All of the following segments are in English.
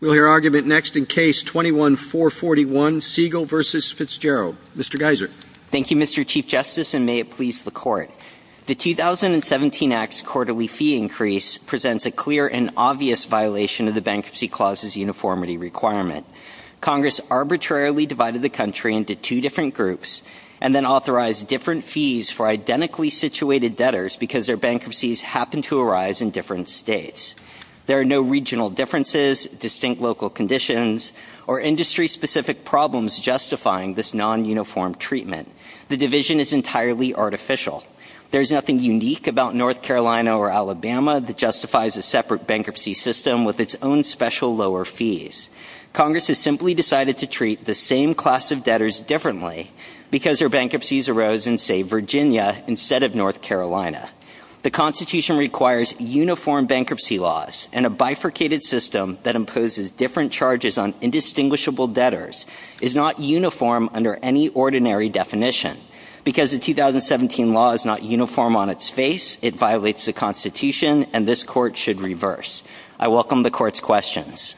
The 2017 Act's quarterly fee increase presents a clear and obvious violation of the Bankruptcy Clause's uniformity requirement. Congress arbitrarily divided the country into two different groups and then authorized different fees for identically situated debtors because their distinct local conditions or industry-specific problems justifying this non-uniform treatment. The division is entirely artificial. There is nothing unique about North Carolina or Alabama that justifies a separate bankruptcy system with its own special lower fees. Congress has simply decided to treat the same class of debtors differently because their bankruptcies arose in, say, Virginia instead of North Carolina. The Constitution requires uniform bankruptcy laws, and a bifurcated system that imposes different charges on indistinguishable debtors is not uniform under any ordinary definition. Because the 2017 law is not uniform on its face, it violates the Constitution, and this Court should reverse. I welcome the Court's questions.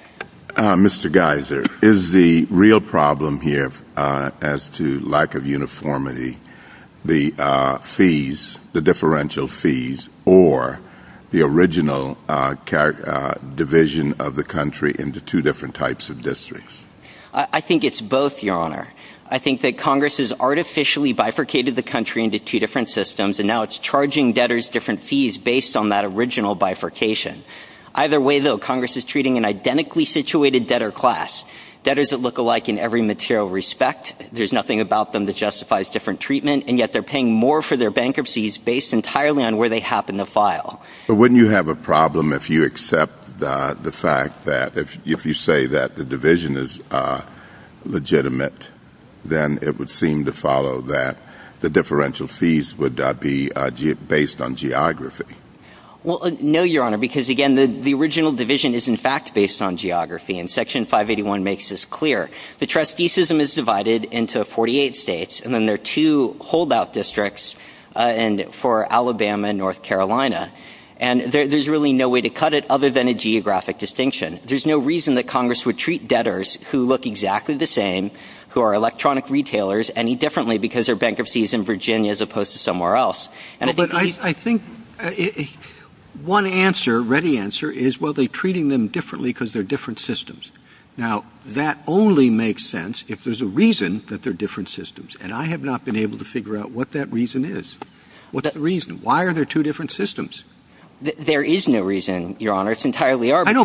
Mr. Geiser, is the real problem here as to lack of uniformity the fees, the differential fees, or the original division of the country into two different types of districts? I think it's both, Your Honor. I think that Congress has artificially bifurcated the country into two different systems, and now it's charging debtors different fees based on that original bifurcation. Either way, though, Congress is treating an identically situated debtor class, debtors that look alike in every material respect. There's nothing about them that justifies different treatment, and yet they're paying more for their bankruptcies based entirely on where they happen to file. But wouldn't you have a problem if you accept the fact that if you say that the division is legitimate, then it would seem to follow that the differential fees would be based on geography? Well, no, Your Honor, because, again, the original division is, in fact, based on geography, and Section 581 makes this clear. The trusteeship is divided into 48 states, and then there are two holdout districts for Alabama and North Carolina, and there's really no way to cut it other than a geographic distinction. There's no reason that Congress would treat debtors who look exactly the same, who are electronic retailers, any differently because their bankruptcy is in Virginia as opposed to somewhere else. But I think one answer, ready answer, is, well, they're treating them differently because they're different systems. Now, that only makes sense if there's a reason that they're different systems, and I have not been able to figure out what that reason is. What's that reason? Why are there two different systems? There is no reason, Your Honor. It's entirely arbitrary. I know,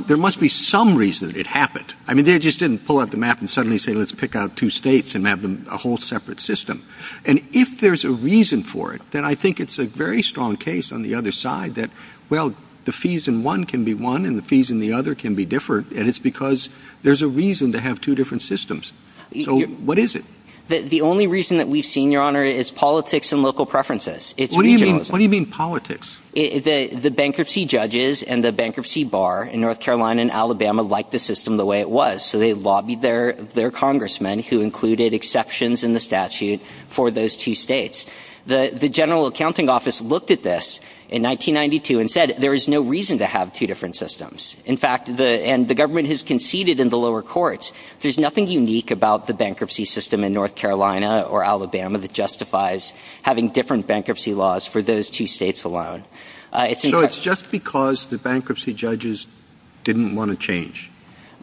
but there must be some reason it happened. I mean, they just didn't pull out the map and suddenly say, let's pick out two states and have a whole separate system. And if there's a reason for it, then I think it's a very strong case on the other side that, well, the fees in one can be one and the fees in the other can be different, and it's because there's a reason to have two different systems. So what is it? The only reason that we've seen, Your Honor, is politics and local preferences. What do you mean politics? The bankruptcy judges and the bankruptcy bar in North Carolina and Alabama liked the system the way it was, so they lobbied their congressmen, who included exceptions in the statute for those two states. The General Accounting Office looked at this in 1992 and said, there is no reason to have two different systems. In fact, and the government has conceded in the lower courts, there's nothing unique about the bankruptcy system in North Carolina or Alabama that justifies having different bankruptcy laws for those two states alone. So it's just because the bankruptcy judges didn't want to change?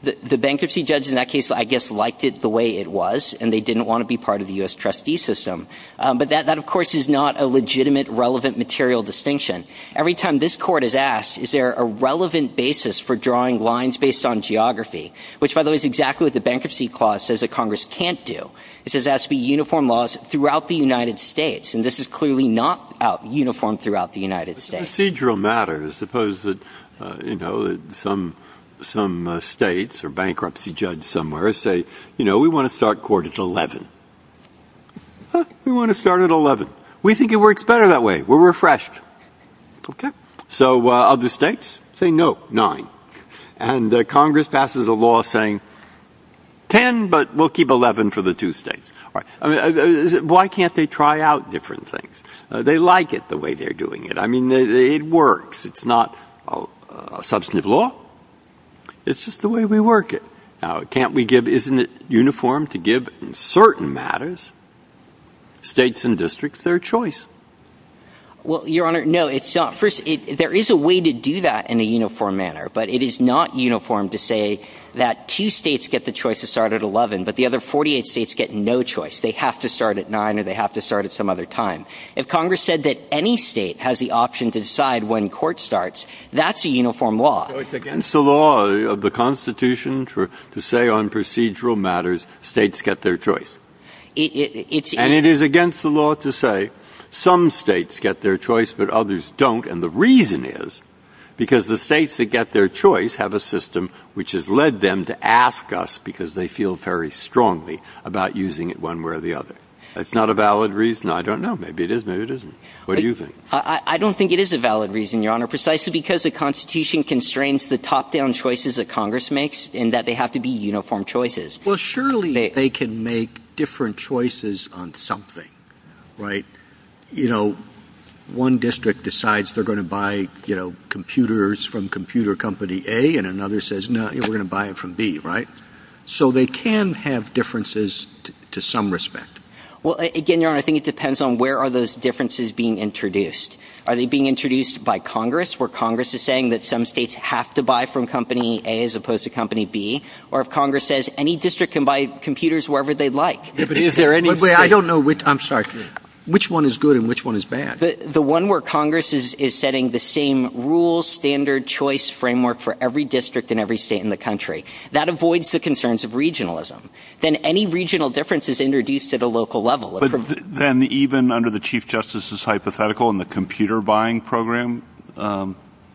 The bankruptcy judges in that case, I guess, liked it the way it was, and they didn't want to be part of the U.S. trustee system. But that, of course, is not a legitimate, relevant material distinction. Every time this court is asked, is there a relevant basis for drawing lines based on geography, which, by the way, is exactly what the Bankruptcy Clause says that Congress can't do. It says that has to be uniform laws throughout the United States, and this is clearly not uniform throughout the United States. It's a procedural matter. Suppose that, you know, some states or bankruptcy judges somewhere say, you know, we want to start court at 11. We want to start at 11. We think it works better that way. We're refreshed. Okay. So other states say no, 9. And Congress passes a law saying 10, but we'll keep 11 for the two states. All right. Why can't they try out different things? They like it the way they're doing it. I mean, it works. It's not a substantive law. It's just the way we work it. Now, can't we give, isn't it uniform to give certain matters, states and districts their choice? Well, Your Honor, no, it's not. First, there is a way to do that in a uniform manner, but it is not uniform to say that two states get the choice to start at 11, but the other 48 states get no choice. They have to start at 9, or they have to start at some other time. If Congress said that any state has the option to decide when court starts, that's a uniform law. It's against the law of the Constitution to say on procedural matters, states get their choice. And it is against the law to say some states get their choice, but others don't. And the reason is because the states that get their choice have a system which has led them to ask us, because they feel very strongly about using it one way or the other. It's not a valid reason. I don't know. Maybe it is. Maybe it isn't. What do you think? I don't think it is a valid reason, Your Honor, precisely because the Constitution constrains the top-down choices that Congress makes, and that they have to be uniform choices. Well, surely they can make different choices on something, right? You know, one district decides they're going to buy, you know, computers from computer company A, and another says, no, we're going to buy it from B, right? So they can have differences to some respect. Well, again, Your Honor, I think it depends on where are those differences being introduced. Are they being introduced by Congress, where Congress is saying that some states have to buy from company A as opposed to company B? Or if Congress says any district can buy computers wherever they'd like? I don't know which, I'm sorry. Which one is good and which one is bad? The one where Congress is setting the same rules, standard, choice framework for every district in every state in the country. That avoids the concerns of regionalism. Then any regional difference is introduced at a local level. But then even under the Chief Justice's hypothetical in the computer-buying program,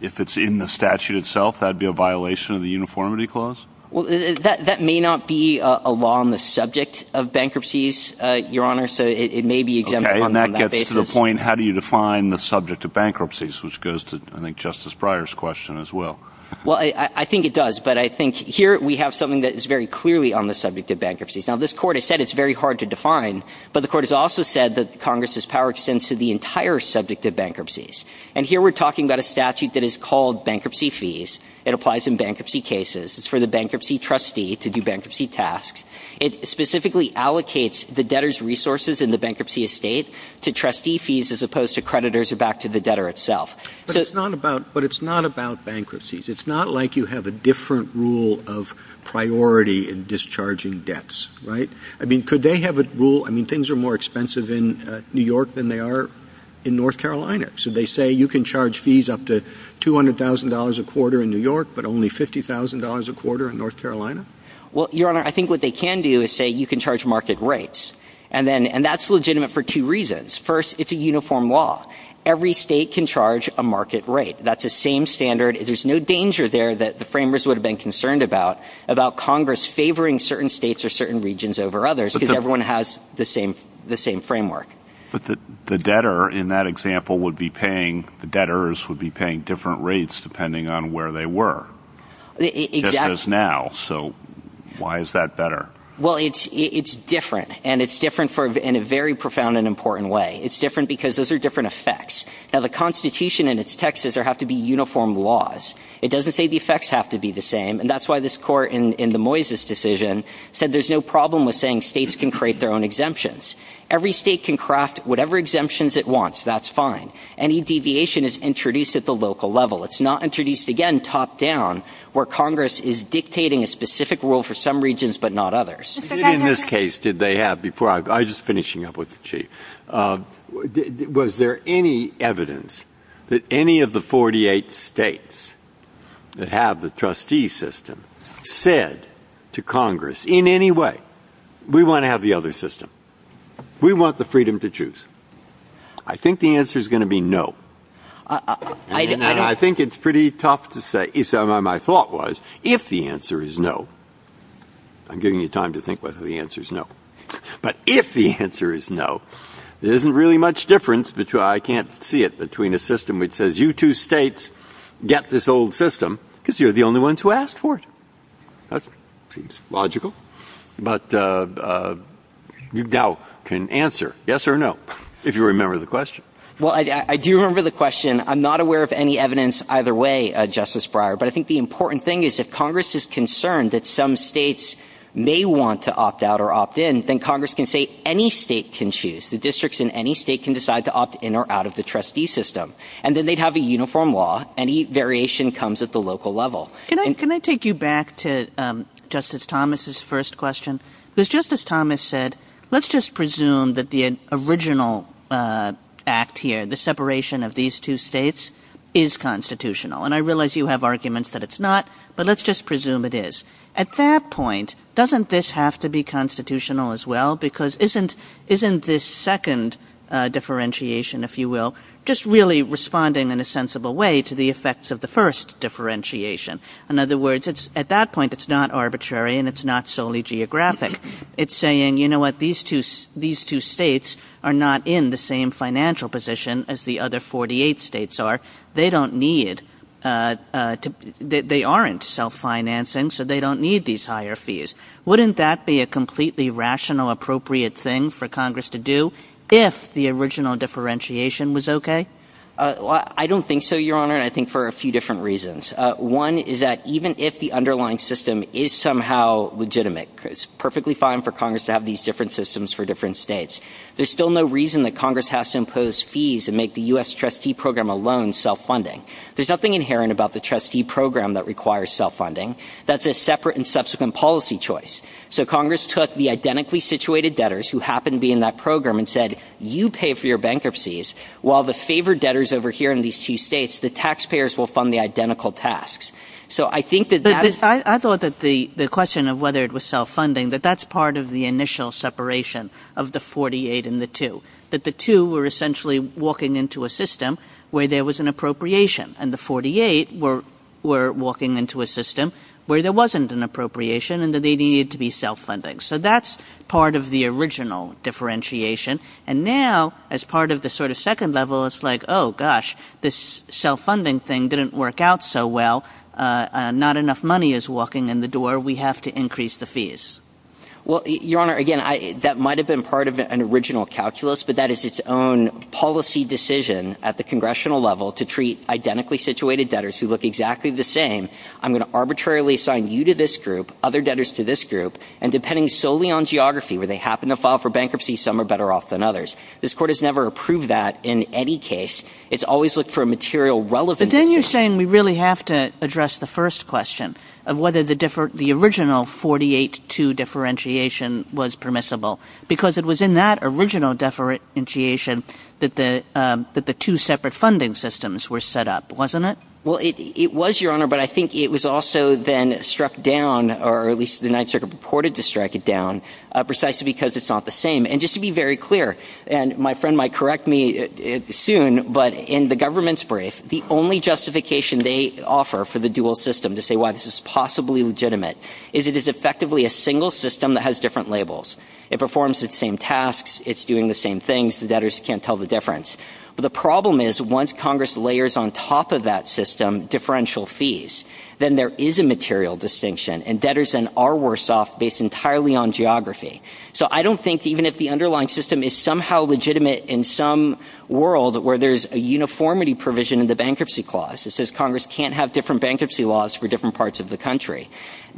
if it's in the statute itself, that'd be a violation of the uniformity clause? That may not be a law on the subject of bankruptcies, Your Honor, so it may be exempted on that basis. Okay, and that gets to the point, how do you define the subject of bankruptcies, which goes to, I think, Justice Breyer's question as well. Well, I think it does, but I think here we have something that is very clearly on the subject of bankruptcies. Now, this Court has said it's very hard to define, but the Court has also said that Congress's power extends to the entire subject of bankruptcies. And here we're talking about a statute that is called bankruptcy fees. It applies in bankruptcy cases. It's for the bankruptcy trustee to do bankruptcy tasks. It specifically allocates the debtor's resources in the bankruptcy estate to trustee fees as opposed to creditors or back to the debtor itself. But it's not about bankruptcies. It's not like you have a different rule of priority in discharging debts, right? I mean, could they have a rule? I mean, things are more expensive in New York than they are in North Carolina. So they say you can charge fees up to $200,000 a quarter in New York, but only $50,000 a quarter in North Carolina? Well, Your Honor, I think what they can do is say you can charge market rates. And that's legitimate for two reasons. First, it's a uniform law. Every state can charge a market rate. That's the same standard. There's no danger there that the framers would have been concerned about, about Congress favoring certain states or certain regions over others because everyone has the same framework. The debtor, in that example, would be paying, the debtors would be paying different rates depending on where they were, just as now. So why is that better? Well, it's different, and it's different in a very profound and important way. It's different because those are different effects. Now, the Constitution in its text says there have to be uniform laws. It doesn't say the effects have to be the same. And that's why this court in the Moises decision said there's no problem with saying states can create their own exemptions. Every state can craft whatever exemptions it wants. That's fine. Any deviation is introduced at the local level. It's not introduced, again, top down, where Congress is dictating a specific rule for some regions but not others. In this case, did they have, before I, I'm just finishing up with the Chief, was there any evidence that any of the 48 states that have the trustee system said to Congress in any way, we want to have the other system. We want the freedom to choose. I think the answer is going to be no. And I think it's pretty tough to say. My thought was if the answer is no, I'm giving you time to think whether the answer is no, but if the answer is no, there isn't really much difference, which I can't see it, between a system which says you two states get this old system because you're the only ones who asked for it. That seems logical. But you now can answer yes or no, if you remember the question. Well, I do remember the question. I'm not aware of any evidence either way, Justice Breyer, but I think the important thing is if Congress is concerned that some states may want to opt out or opt in, then Congress can say any state can choose. The districts in any state can decide to opt in or out of the trustee system. And then they'd have a uniform law. Any variation comes at the local level. Can I take you back to Justice Thomas's first question? Because Justice Thomas said, let's just presume that the original act here, the separation of these two states is constitutional. And I realize you have arguments that it's not, but let's just presume it is. At that point, doesn't this have to be constitutional as well? Because isn't this second differentiation, if you will, just really responding in a sensible way to the effects of the first differentiation? In other words, at that point, it's not arbitrary and it's not solely geographic. It's saying, you know what, these two states are not in the same financial position as the other 48 states are. They aren't self-financing, so they don't need these higher fees. Wouldn't that be a completely rational, appropriate thing for Congress to do if the original differentiation was okay? I don't think so, Your Honor. I think for a few different reasons. One is that even if the underlying system is somehow legitimate, it's perfectly fine for Congress to have these different systems for different states. There's still no reason that Congress has to impose fees and make the U.S. trustee program alone self-funding. There's nothing inherent about the trustee program that requires self-funding. That's a separate and subsequent policy choice. So Congress took the identically situated debtors who happened to be in that program and said, you pay for your bankruptcies, while the favored debtors over here in these two states, the taxpayers will fund the identical tasks. I thought that the question of whether it was self-funding, that that's part of the system where there was an appropriation, and the 48 were walking into a system where there wasn't an appropriation and that they needed to be self-funding. So that's part of the original differentiation, and now as part of the second level, it's like, oh gosh, this self-funding thing didn't work out so well. Not enough money is walking in the door. We have to increase the fees. Well, Your Honor, again, that might have been part of an original calculus, but that is its own policy decision at the congressional level to treat identically situated debtors who look exactly the same. I'm going to arbitrarily assign you to this group, other debtors to this group, and depending solely on geography, where they happen to file for bankruptcy, some are better off than others. This court has never approved that in any case. It's always looked for material relevance. But then you're saying we really have to address the first question of whether the original 48-2 differentiation was permissible, because it was in that original differentiation that the two separate funding systems were set up, wasn't it? Well, it was, Your Honor, but I think it was also then struck down, or at least the United Circuit purported to strike it down, precisely because it's not the same. And just to be very clear, and my friend might correct me soon, but in the government's brief, the only justification they offer for the dual system, to say why this is possibly legitimate, is it is effectively a single system that has different labels. It performs the same tasks. It's doing the same things. The debtors can't tell the difference. But the problem is once Congress layers on top of that system differential fees, then there is a material distinction, and debtors then are worse off based entirely on geography. So I don't think even if the underlying system is somehow legitimate in some world where there's a uniformity provision in the bankruptcy clause that says Congress can't have different bankruptcy laws for different parts of the country,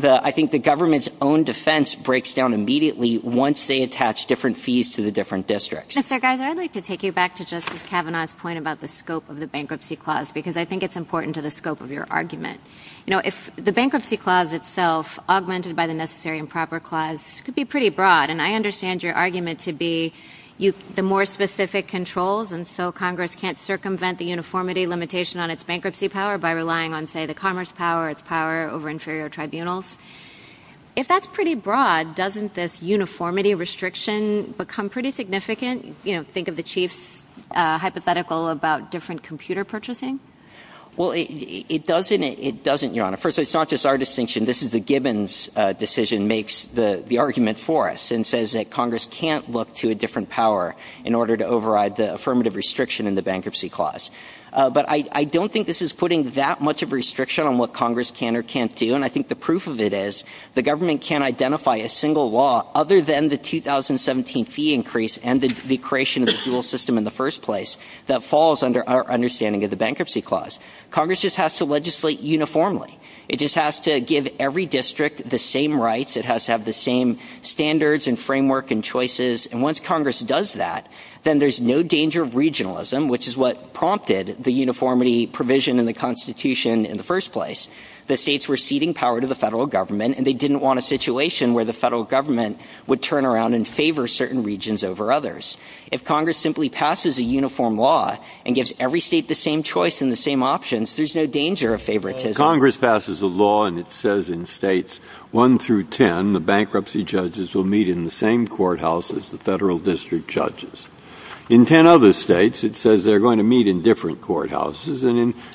I think the government's own defense breaks down immediately once they attach different fees to the different districts. Mr. Geiser, I'd like to take you back to Justice Kavanaugh's point about the scope of the bankruptcy clause, because I think it's important to the scope of your argument. You know, if the bankruptcy clause itself, augmented by the Necessary and Proper Clause, could be pretty broad, and I understand your argument to be the more specific controls, and so Congress can't circumvent the uniformity limitation on its bankruptcy power by relying on, say, the commerce power, its power over inferior tribunals. If that's pretty broad, doesn't this uniformity restriction become pretty significant? You know, think of the Chief's hypothetical about different computer purchasing? Well, it doesn't, Your Honor. First, it's not just our distinction. This is the Gibbons decision makes the argument for us, and says that Congress can't look to a different power in order to override the affirmative restriction in the bankruptcy clause. But I don't think this is putting that much of a restriction on what Congress can or can't do, and I think the proof of it is the government can't identify a single law other than the 2017 fee increase and the creation of the dual system in the first place that falls under our understanding of the bankruptcy clause. Congress just has to legislate uniformly. It just has to give every district the same rights. It has to have the same standards and framework and all of that. Then there's no danger of regionalism, which is what prompted the uniformity provision in the Constitution in the first place. The states were ceding power to the federal government and they didn't want a situation where the federal government would turn around and favor certain regions over others. If Congress simply passes a uniform law and gives every state the same choice and the same options, there's no danger of favoritism. Congress passes a law and it says in states one through ten, the bankruptcy judges will meet in the same courthouse as the federal district judges. In ten other states, it says they're going to meet in different courthouses,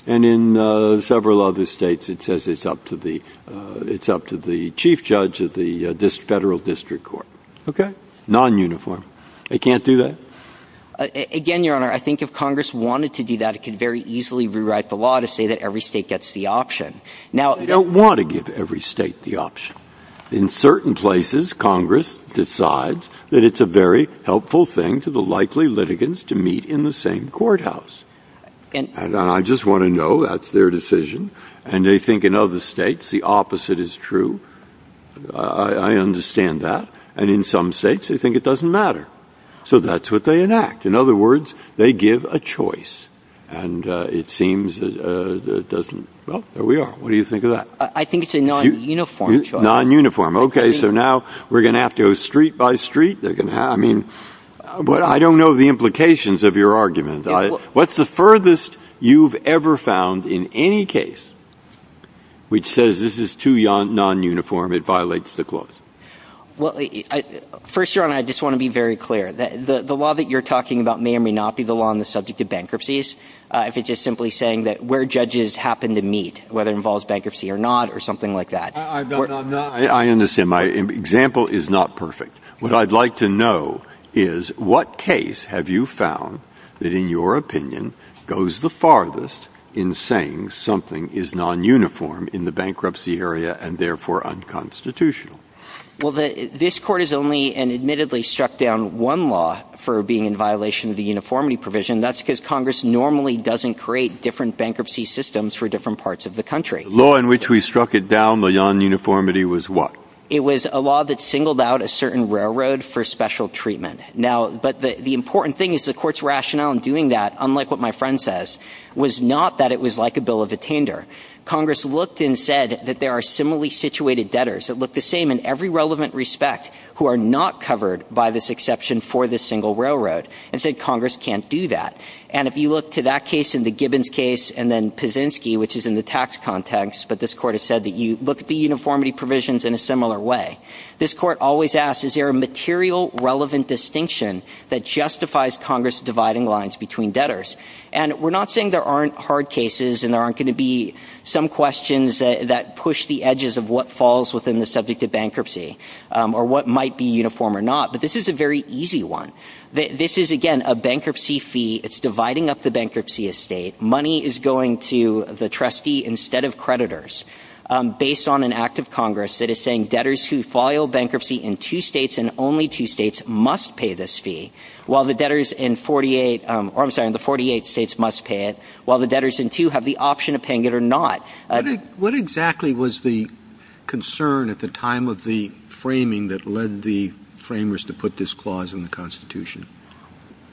and in several other states, it says it's up to the chief judge of the federal district court. Okay? Non-uniform. It can't do that? Again, Your Honor, I think if Congress wanted to do that, it could very easily rewrite the law to say that every state gets the option. Now, they don't want to give every state the option. In certain places, Congress decides that it's a very helpful thing to the likely litigants to meet in the same courthouse. I just want to know that's their decision, and they think in other states the opposite is true. I understand that. In some states, they think it doesn't matter. So that's what they enact. In other words, they give a choice, and it seems that it doesn't. Well, there we are. What do you think of that? I think it's a non-uniform choice. Non-uniform. Okay, so now we're going to have to go street by street. I mean, I don't know the implications of your argument. What's the furthest you've ever found in any case which says this is too non-uniform, it violates the clause? Well, First Your Honor, I just want to be very clear. The law that you're talking about may or may not be the law on the subject of bankruptcies, if it's just simply saying that where judges happen to meet, whether it involves bankruptcy or not, or something like that. I understand. My example is not perfect. What I'd like to know is what case have you found that in your opinion goes the farthest in saying something is non-uniform in the bankruptcy area and therefore unconstitutional? Well, this Court has only admittedly struck down one law for being in violation of the uniformity provision. That's because Congress normally doesn't create different bankruptcy systems for different parts of the country. The law in which we struck it down, the non-uniformity, was what? It was a law that singled out a certain railroad for special treatment. Now, but the important thing is the Court's rationale in doing that, unlike what my friend says, was not that it was like a bill of attainder. Congress looked and said that there are similarly situated debtors that look the same in every relevant respect who are not covered by this exception for this single railroad, and said Congress can't do that. And if you look to that case and the Gibbons case and then Pazinski, which is in the tax context, but this Court has said that you look at the uniformity provisions in a similar way. This Court always asks, is there a material relevant distinction that justifies Congress dividing lines between debtors? And we're not saying there aren't hard cases and there aren't going to be some questions that push the edges of what falls within the subject of bankruptcy or what might be uniform or not, but this is a very easy one. This is, again, a bankruptcy fee. It's dividing up the bankruptcy estate. Money is going to the trustee instead of creditors based on an act of Congress that is saying debtors who file bankruptcy in two states and only two states must pay this fee, while the debtors in the 48 states must pay it, while the debtors in two have the option of paying it or not. What exactly was the concern at the time of the framing that led the framers to put this clause in the Constitution?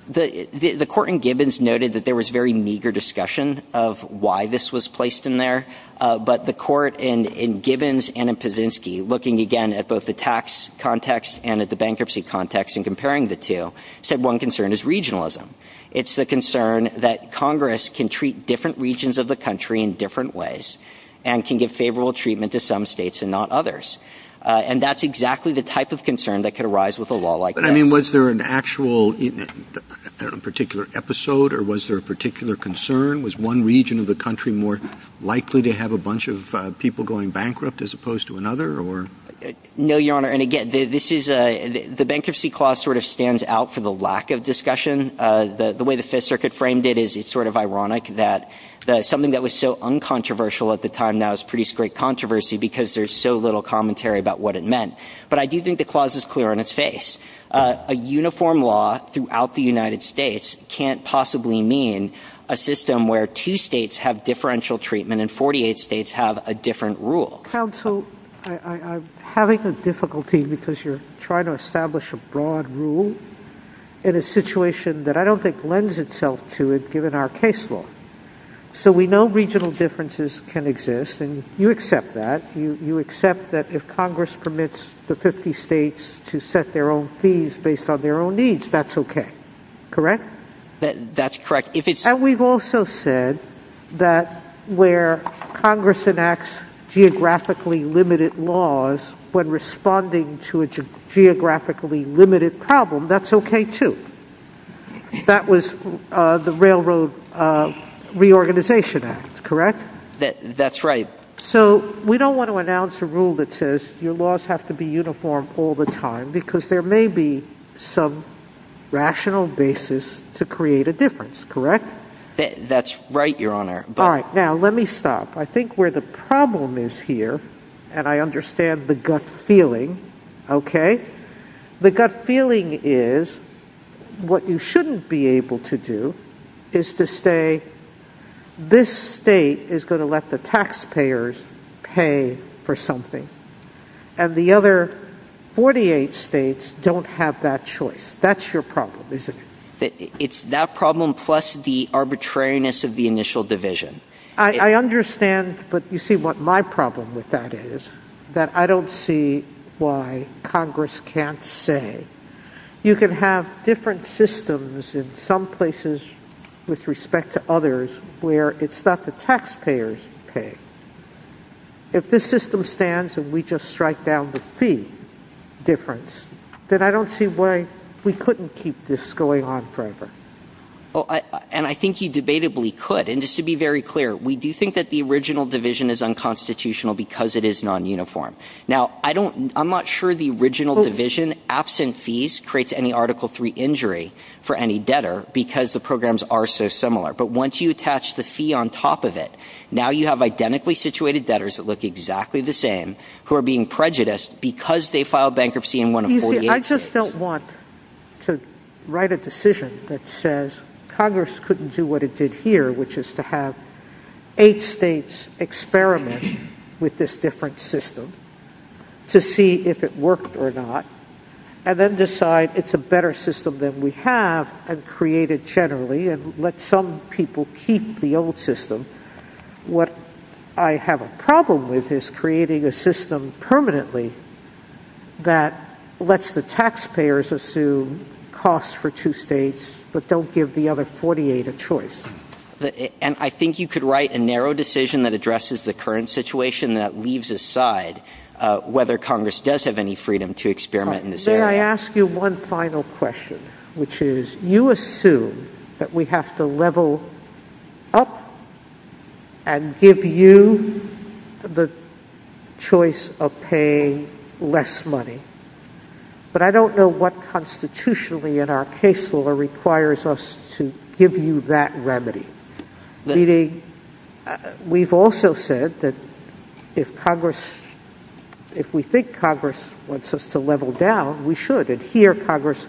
The Court in Gibbons noted that there was very meager discussion of why this was placed in there, but the Court in Gibbons and in Pazinski, looking again at both the tax context and at the bankruptcy context and comparing the two, said one concern is regionalism. It's the concern that Congress can treat different regions of the country in different ways and can give favorable treatment to some states and not others. And that's exactly the type of concern that could arise with a law like that. Was there an actual particular episode or was there a particular concern? Was one region of the country more likely to have a bunch of people going bankrupt as opposed to another? No, Your Honor. And again, the bankruptcy clause sort of stands out for the lack of discussion. The way the Fifth Circuit framed it is it's sort of ironic that something that was so uncontroversial at the time now is pretty straight controversy because there's so little commentary about what it meant. But I do think the clause is clear on its face. A uniform law throughout the United States can't possibly mean a system where two states have differential treatment and 48 states have a different rule. Counsel, I'm having a difficulty because you're trying to establish a broad rule in a situation that I don't think lends itself to it given our case law. So we know regional differences can exist and you accept that. You accept that if Congress permits the 50 states to set their own fees based on their own needs, that's okay. Correct? That's correct. And we've also said that where Congress enacts geographically limited laws when responding to a geographically limited problem, that's okay too. That was the Railroad Reorganization Act, correct? That's right. So we don't want to announce a rule that says your laws have to be uniform all the time because there may be some rational basis to create a difference, correct? That's right, Your Honor. All right. Now let me stop. I think where the problem is here, and I understand the gut feeling, okay? The gut feeling is what you shouldn't be able to do is to say this state is going to let the taxpayers pay for something and the other 48 states don't have that choice. That's your problem, isn't it? It's that problem plus the arbitrariness of the initial division. I understand, but you see what my problem with that is, that I don't see why Congress can't say. You can have different systems in some places with respect to others where it's not the taxpayers' pay. If the system stands and we just strike down the fee difference, then I don't see why we couldn't keep this going on forever. And I think you debatably could. And just to be very clear, we do think that the original division is unconstitutional because it is non-uniform. Now, I'm not sure the original division, absent fees, creates any Article III injury for any debtor because the programs are so similar. But once you attach the fee on top of it, now you have identically situated debtors that look exactly the same who are being prejudiced because they filed bankruptcy in one of 48 states. You see, I just don't want to write a decision that says Congress couldn't do what it did here, which is to have eight states experiment with this different system to see if it worked or not, and then decide it's a better system than we have and create it generally and let some people keep the old system. What I have a problem with is creating a system permanently that lets the taxpayers assume costs for two states but don't give the other 48 a choice. And I think you could write a narrow decision that addresses the current situation that leaves aside whether Congress does have any freedom to experiment in this area. May I ask you one final question, which is, you assume that we have to level up and give you the choice of paying less money, but I don't know what constitutionally in our case requires us to give you that remedy. Meaning, we've also said that if Congress, if we think Congress wants us to level down, we should. And here Congress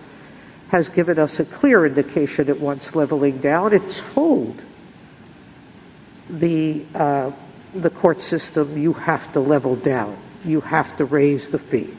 has given us a clear indication it wants leveling down. It's told the court system you have to level down. You have to raise the fee.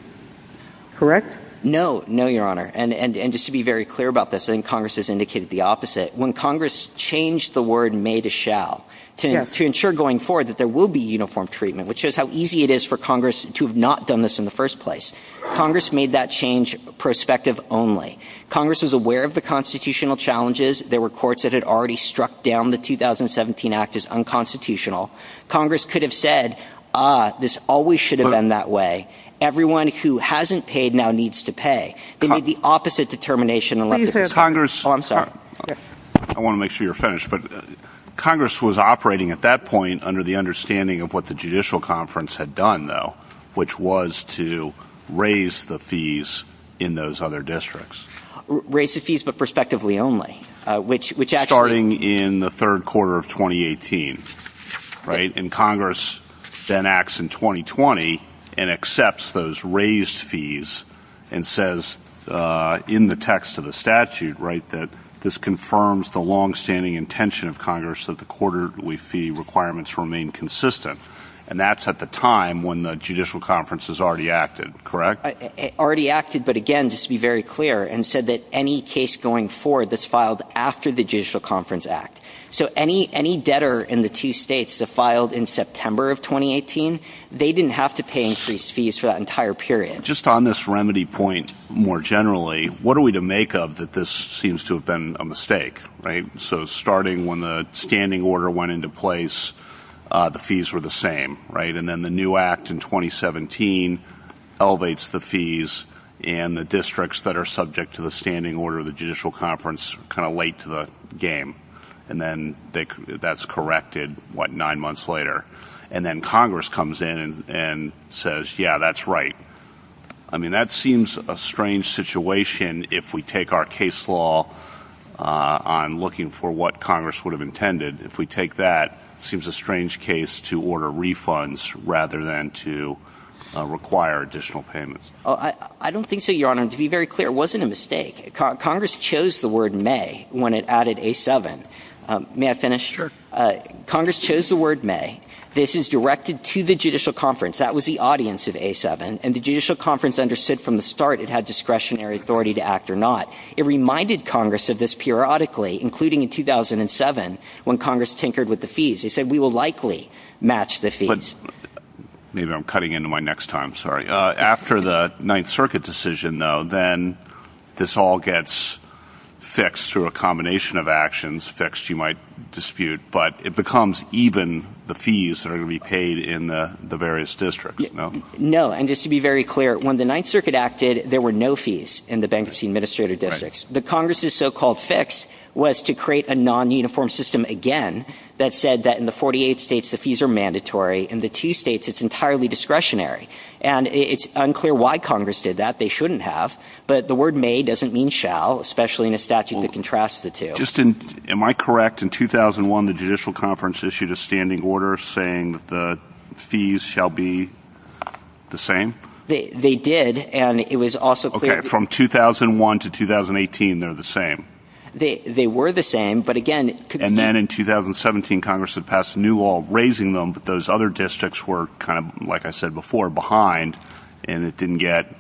Correct? No, Your Honor. And just to be very clear about this, I think Congress has indicated the opposite. When Congress changed the word may to shall to ensure going forward that there will be uniform treatment, which shows how easy it is for Congress to have not done this in the first place, Congress made that change prospective only. Congress was aware of the constitutional challenges. There were courts that had already struck down the 2017 Act as unconstitutional. Congress could have said, ah, this always should have been that way. Everyone who hasn't paid now needs to pay. They made the opposite determination. Oh, I'm sorry. I want to make sure you're finished, but Congress was operating at that point under the understanding of what the judicial conference had done, though, which was to raise the fees in those other districts. Raise the fees, but prospectively only, which raised fees and says in the text of the statute, right, that this confirms the longstanding intention of Congress that the quarterly fee requirements remain consistent, and that's at the time when the judicial conference has already acted. Correct? Already acted, but again, just to be very clear, and said that any case going forward that's filed after the Judicial Conference Act. So any debtor in the two states that didn't have to pay increased fees for that entire period. Just on this remedy point, more generally, what are we to make of that this seems to have been a mistake, right? So starting when the standing order went into place, the fees were the same, right? And then the new act in 2017 elevates the fees and the districts that are subject to the standing order of the Judicial Conference kind of late to the game. And then that's corrected, what, nine months later. And then Congress comes in and says, yeah, that's right. I mean, that seems a strange situation if we take our case law on looking for what Congress would have intended. If we take that, it seems a strange case to order refunds rather than to require additional payments. I don't think so, Your Honor. To be very clear, it wasn't a mistake. Congress chose the word May when it added A7. May I finish? Sure. Congress chose the word May. This is directed to the Judicial Conference. That was the audience of A7. And the Judicial Conference understood from the start it had discretionary authority to act or not. It reminded Congress of this periodically, including in 2007 when Congress tinkered with the fees. They said, we will likely match the fees. Maybe I'm cutting into my next time. Sorry. After the Ninth Circuit decision, though, this all gets fixed through a combination of actions. Fixed, you might dispute. But it becomes even the fees that are going to be paid in the various districts. No. And just to be very clear, when the Ninth Circuit acted, there were no fees in the bankruptcy administrative districts. The Congress's so-called fix was to create a non-uniform system again that said that in the 48 states the fees are mandatory. In the two states, it's entirely discretionary. And it's unclear why Congress did that. They shouldn't have. But the word May doesn't mean shall, especially in a statute that contrasts the two. Just in, am I correct, in 2001, the Judicial Conference issued a standing order saying that the fees shall be the same? They did. And it was also clear that Okay. From 2001 to 2018, they're the same. They were the same. But again And then in 2017, Congress had passed a new law raising them, but those other districts were kind of, like I said before, behind. And it didn't get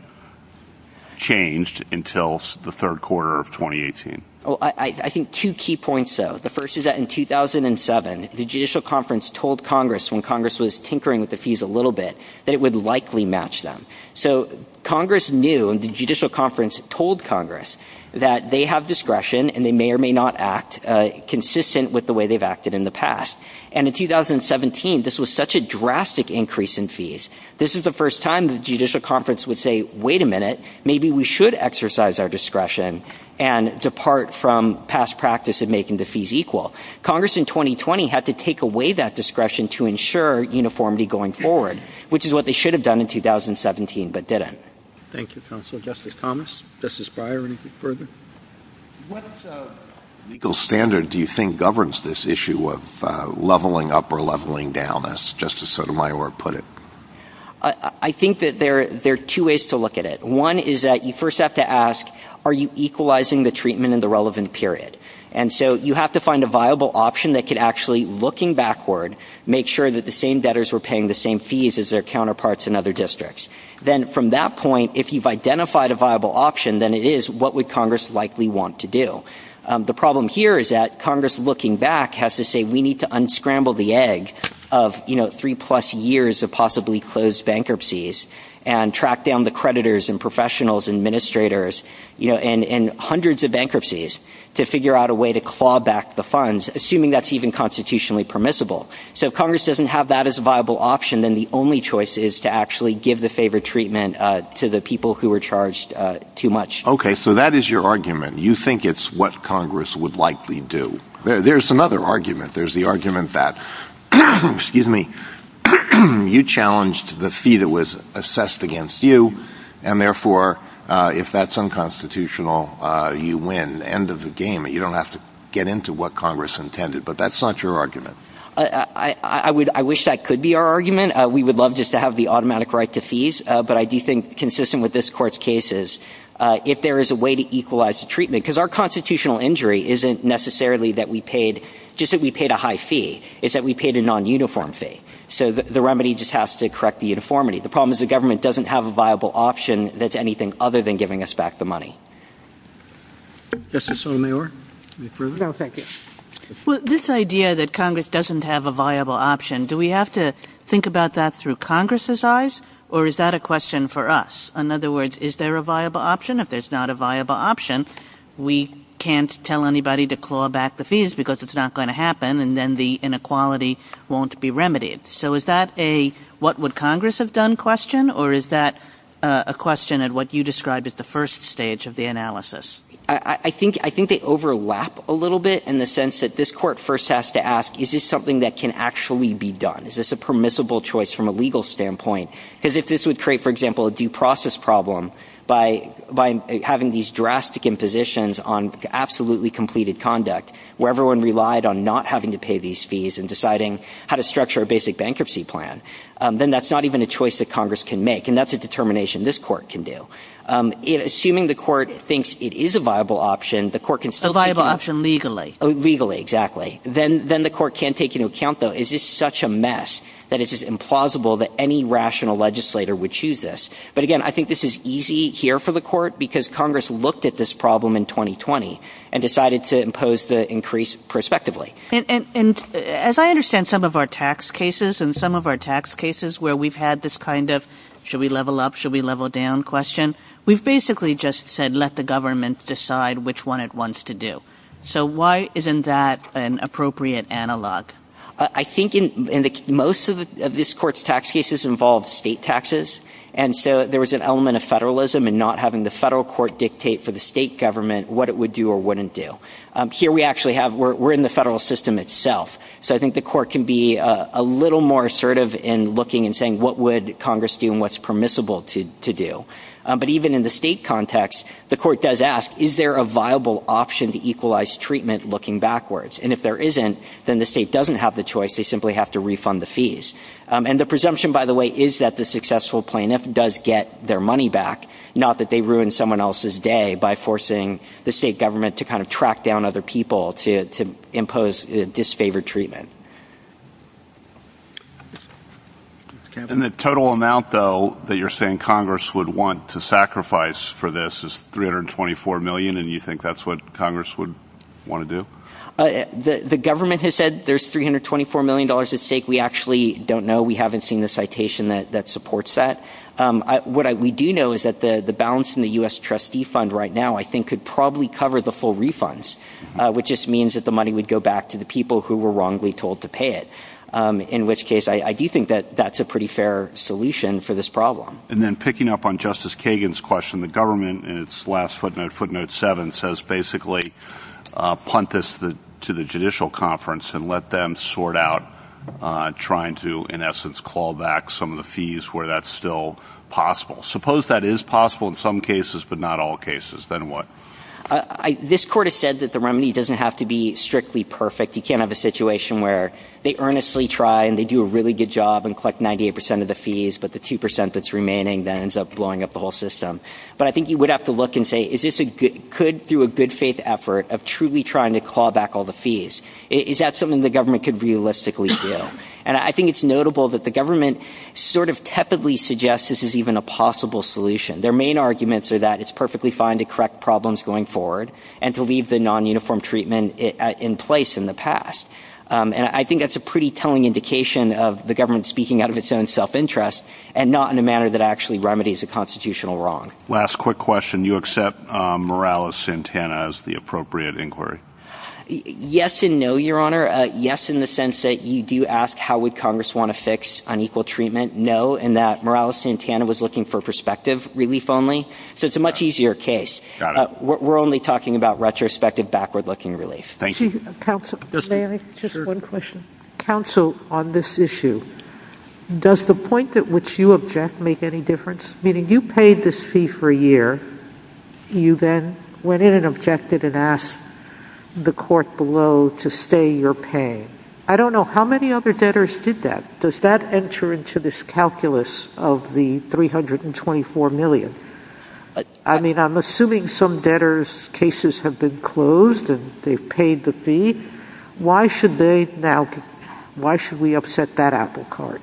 changed until the third quarter of 2018. I think two key points, though. The first is that in 2007, the Judicial Conference told Congress, when Congress was tinkering with the fees a little bit, that it would likely match them. So Congress knew, and the Judicial Conference told Congress, that they have discretion and they may or may not act consistent with the way they've acted in the past. And in 2017, this was such a drastic increase in fees. This is the first time the Judicial Conference would say, wait a minute, maybe we should exercise our discretion and depart from past practice of making the fees equal. Congress in 2020 had to take away that discretion to ensure uniformity going forward, which is what they should have done in 2017, but didn't. Thank you, Counselor. Justice Thomas, Justice Breyer, anything further? What legal standard do you think governs this issue of leveling up or leveling down, as Justice Sotomayor put it? I think that there are two ways to look at it. One is that you first have to ask, are you equalizing the treatment in the relevant period? And so you have to find a viable option that could actually, looking backward, make sure that the same debtors were paying the same fees as their counterparts in other districts. Then from that point, if you've identified a viable option, then it is, what would Congress likely want to do? The problem here is that Congress, looking back, has to say, we need to unscramble the egg of three-plus years of possibly closed bankruptcies and track down the creditors and professionals and administrators in hundreds of bankruptcies to figure out a way to claw back the funds, assuming that's even constitutionally permissible. So if Congress doesn't have that as a viable option, then the only choice is to actually give the favor treatment to the people who were charged too much. Okay, so that is your argument. You think it's what Congress would likely do. There's another argument. There's the argument that you challenged the fee that was assessed against you, and therefore, if that's unconstitutional, you win. End of the game. You don't have to get into what Congress intended. But that's not your argument. I wish that could be our argument. We would love just to have the automatic right to fees, but I do think, consistent with this court's cases, if there is a way to equalize the treatment, because our constitutional injury isn't necessarily just that we paid a high fee. It's that we paid a non-uniform fee. So the remedy just has to correct the uniformity. The problem is the government doesn't have a viable option that's anything other than giving us back the money. Justice Sotomayor, any further? No, thank you. Well, this idea that Congress doesn't have a viable option, do we have to think about that through Congress's eyes, or is that a question for us? In other words, is there a viable option? If there's not a viable option, we can't tell anybody to claw back the fees because it's not going to happen, and then the inequality won't be remedied. So is that a what would Congress have done question, or is that a question of what you described as the first stage of the analysis? I think they overlap a little bit in the sense that this court first has to ask, is this something that can actually be done? Is this a permissible choice from a legal standpoint? Because if this would create, for example, a due process problem by having these drastic impositions on absolutely completed conduct, where everyone relied on not having to pay these fees and deciding how to structure a basic bankruptcy plan, then that's not even the choice that Congress can make, and that's a determination this court can do. Assuming the court thinks it is a viable option, the court can still... A viable option legally. Legally, exactly. Then the court can take into account, though, is this such a mess that it is implausible that any rational legislator would choose this? But again, I think this is easy here for the court because Congress looked at this problem in 2020 and decided to impose the increase prospectively. As I understand some of our tax cases, and some of our tax cases where we've had this kind of, should we level up, should we level down question, we've basically just said, let the government decide which one it wants to do. So why isn't that an appropriate analog? I think most of this court's tax cases involved state taxes, and so there was an element of federalism in not having the federal court dictate for the state government what it would do or wouldn't do. Here we actually have, we're in the federal system itself, so I think the court can be a little more assertive in looking and saying what would Congress do and what's permissible to do. But even in the state context, the court does ask, is there a viable option to equalize treatment looking backwards? And if there isn't, then the state doesn't have the choice, they simply have to refund the fees. And the presumption, by the way, is that the successful plaintiff does get their money back, not that they ruin someone else's day by forcing the state government to kind of track down other people to impose disfavored treatment. And the total amount, though, that you're saying Congress would want to sacrifice for this is $324 million, and you think that's what Congress would want to do? The government has said there's $324 million at stake. We actually don't know. We haven't seen the citation that supports that. What we do know is that the balance in the U.S. trustee fund right now I think could probably cover the full refunds, which just means that the money would go back to the people who were wrongly told to pay it, in which case I do think that that's a pretty fair solution for this problem. And then picking up on Justice Kagan's question, the government in its last footnote, footnote seven, says basically punt this to the judicial conference and let them sort out trying to in essence call back some of the fees where that's still possible. Suppose that is possible in some cases, but not all cases. Then what? This court has said that the remedy doesn't have to be strictly perfect. You can't have a situation where they earnestly try and they do a really good job and collect 98 percent of the fees, but the 2 percent that's remaining then ends up blowing up the whole system. But I think you would have to look and say, is this a good, could through a good faith effort of truly trying to call back all the fees, is that something the government could realistically do? And I think it's notable that the government sort of tepidly suggests this is even a possible solution. Their main arguments are that it's perfectly fine to correct problems going forward and to leave the non-uniform treatment in place in the past. And I think that's a pretty telling indication of the government speaking out of its own self-interest and not in a manner that actually remedies a constitutional wrong. Last quick question, do you accept Morales-Santana as the appropriate inquiry? Yes and no, Your Honor. Yes, in the sense that you do ask how would Congress want to fix unequal treatment. No, in that Morales-Santana was looking for prospective relief only. So it's a much easier case. We're only talking about retrospective, backward-looking relief. Thank you. Counsel, may I? Just one question. Counsel, on this issue, does the point at which you object make any difference? Meaning, you paid this fee for a year. You then went in and objected and asked the court below to stay your pay. I don't know how many other debtors did that. Does that enter into this calculus of the $324 million? I mean, I'm assuming some debtors' cases have been closed and they've paid the fee. Why should they now, why should we upset that apple cart?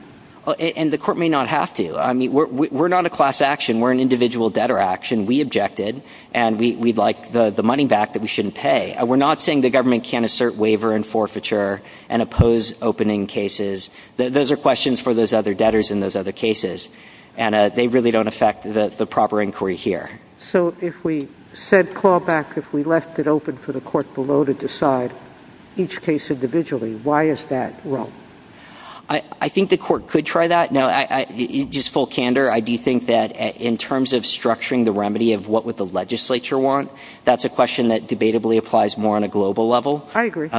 And the court may not have to. I mean, we're not a class action. We're an individual debtor action. We objected and we'd like the money back that we shouldn't pay. We're not saying the government can't assert waiver and forfeiture and oppose opening cases. Those are questions for those other debtors in those other cases. And they really don't affect the proper inquiry here. So if we said clawback, if we left it open for the court below to decide each case individually, why is that wrong? I think the court could try that. Now, just full candor, I do think that in terms of structuring the remedy of what would the legislature want, that's a question that debatably applies more on a global level. I agree.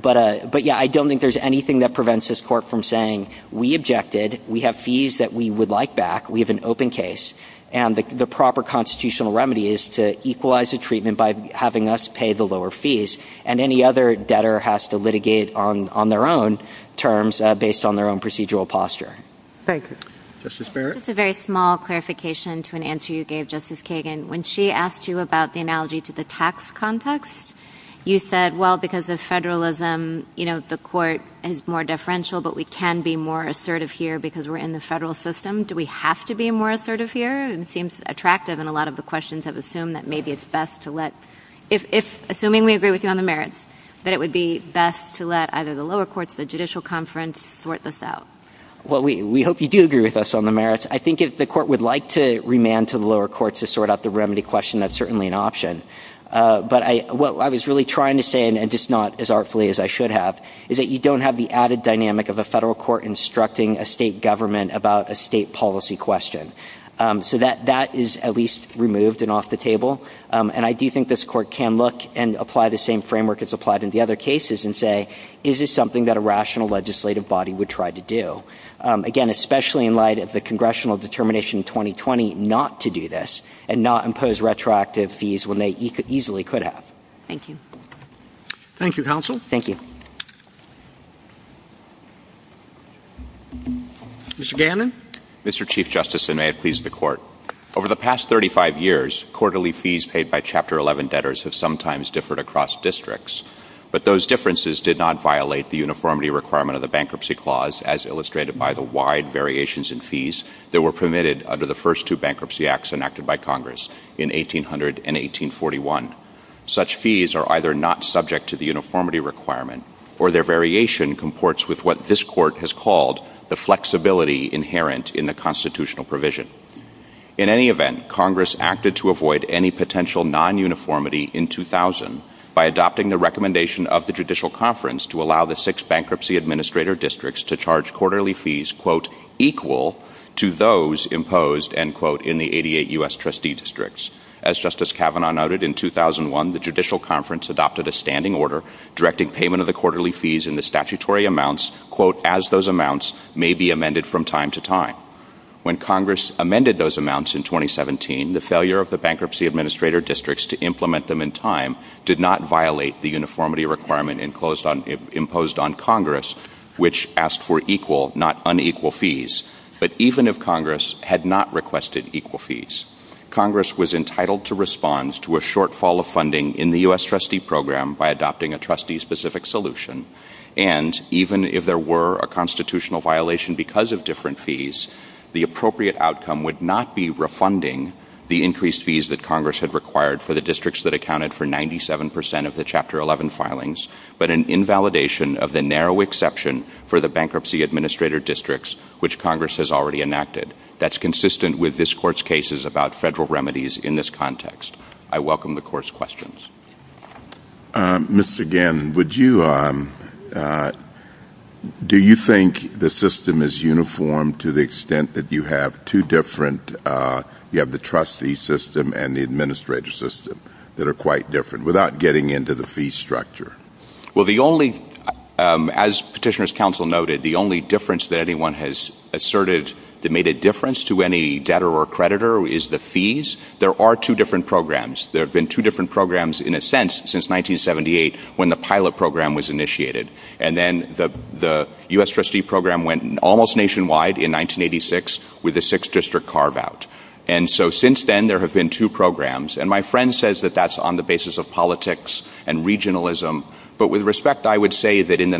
But yeah, I don't think there's anything that prevents this court from saying, we objected. We have fees that we would like back. We have an open case. And the proper constitutional remedy is to equalize the treatment by having us pay the lower fees. And any other debtor has to litigate on their own terms based on their own procedural posture. Very good. Justice Barrett? Just a very small clarification to an answer you gave, Justice Kagan. When she asked you about the analogy to the tax context, you said, well, because of federalism, the court is more deferential, but we can be more assertive here because we're in the federal system. Do we have to be more assertive here? And it seems attractive in a lot of the questions I've assumed that maybe it's best to let, assuming we agree with you on the merits, that it would be best to let either the lower courts or the judicial conference sort this out. Well, we hope you do agree with us on the merits. I think if the court would like to remand to the lower courts to sort out the remedy question, that's certainly an option. But what I was really trying to say, and just not as artfully as I should have, is that you don't have the added dynamic of a federal court instructing a state government about a state policy question. So that is at least removed and off the table. And I do think this court can look and apply the same framework as applied in the other cases and say, is this something that a rational legislative body would try to do? Again, especially in light of the congressional determination in 2020 not to do this and not impose retroactive fees when they easily could have. Thank you. Thank you, counsel. Thank you. Mr. Gannon? Mr. Chief Justice, and may it please the Court, over the past 35 years, quarterly fees paid by Chapter 11 debtors have sometimes differed across districts. But those differences did not violate the uniformity requirement of the Bankruptcy Clause, as illustrated by the wide variations in fees that were permitted under the first two bankruptcy acts enacted by Congress in 1800 and 1841. Such fees are either not subject to the uniformity requirement or their variation comports with what this Court has called the flexibility inherent in the constitutional provision. In any event, Congress acted to avoid any potential non-uniformity in 2000 by adopting the recommendation of the Judicial Conference to allow the six bankruptcy administrator districts to charge quarterly fees, quote, equal to those imposed, end quote, in the 88 U.S. trustee districts. As Justice Kavanaugh noted, in 2001, the Judicial Conference adopted a standing order directing payment of the quarterly fees in the statutory amounts, quote, as those amounts may be amended from time to time. When Congress amended those amounts in 2017, the failure of the bankruptcy administrator districts to implement them in time did not violate the uniformity requirement imposed on Congress, which asked for equal, not unequal, fees. But even if Congress had not requested equal fees, Congress was entitled to respond to a shortfall of funding in the U.S. trustee program by adopting a trustee-specific solution. And even if there were a constitutional violation because of different fees, the appropriate outcome would not be refunding the increased fees that Congress had required for the districts that accounted for 97 percent of the Chapter 11 filings, but an invalidation of the narrow exception for the bankruptcy administrator districts, which Congress has already enacted. That's consistent with this Court's cases about federal remedies in this context. I welcome the Court's questions. Mr. Gannon, would you – do you think the system is uniform to the extent that you have two different – you have the trustee system and the administrator system that are quite different, without getting into the fee structure? Well, the only – as Petitioner's Counsel noted, the only difference that anyone has asserted that made a difference to any debtor or creditor is the fees. There are two different programs. There have been two different programs, in a sense, since 1978, when the pilot program was initiated. And then the U.S. trustee program went almost nationwide in 1986 with the six-district carve-out. And so since then, there have been two programs. And my friend says that that's on the basis of politics and regionalism. But with respect, I would say that in the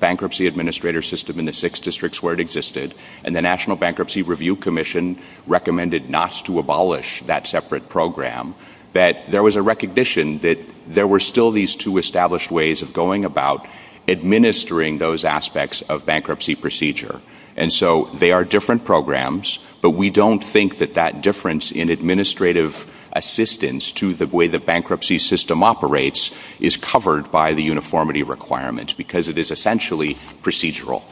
bankruptcy administrator system in the six districts where it existed, and the National Bankruptcy Review Commission recommended not to abolish that separate program, that there was a recognition that there were still these two established ways of going about administering those aspects of bankruptcy procedure. And so they are different programs, but we don't think that that difference in administrative assistance to the way the bankruptcy system operates is covered by the uniformity requirements because it is essentially procedural.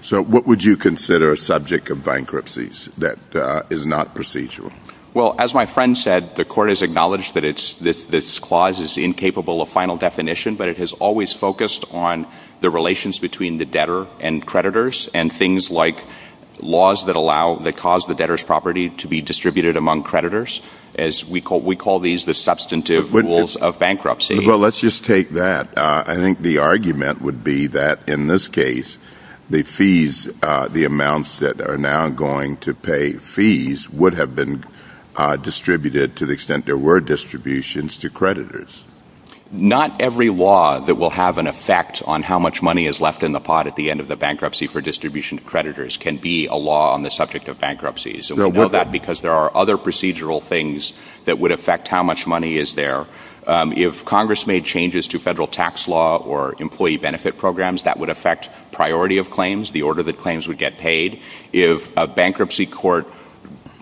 So what would you consider a subject of bankruptcies that is not procedural? Well, as my friend said, the court has acknowledged that this clause is incapable of final definition, but it has always focused on the relations between the debtor and creditors and things like laws that allow – that cause the debtor's property to be distributed among creditors, as we call these the substantive rules of bankruptcy. Well, let's just take that. I think the argument would be that in this case, the fees, the amounts that are now going to pay fees would have been distributed to the extent there were distributions to creditors. Not every law that will have an effect on how much money is left in the pot at the end of the bankruptcy for distribution to creditors can be a law on the subject of bankruptcies. We know that because there are other procedural things that would affect how much money is there. If Congress made changes to federal tax law or employee benefit programs, that would affect priority of claims, the order that claims would get paid. If a bankruptcy court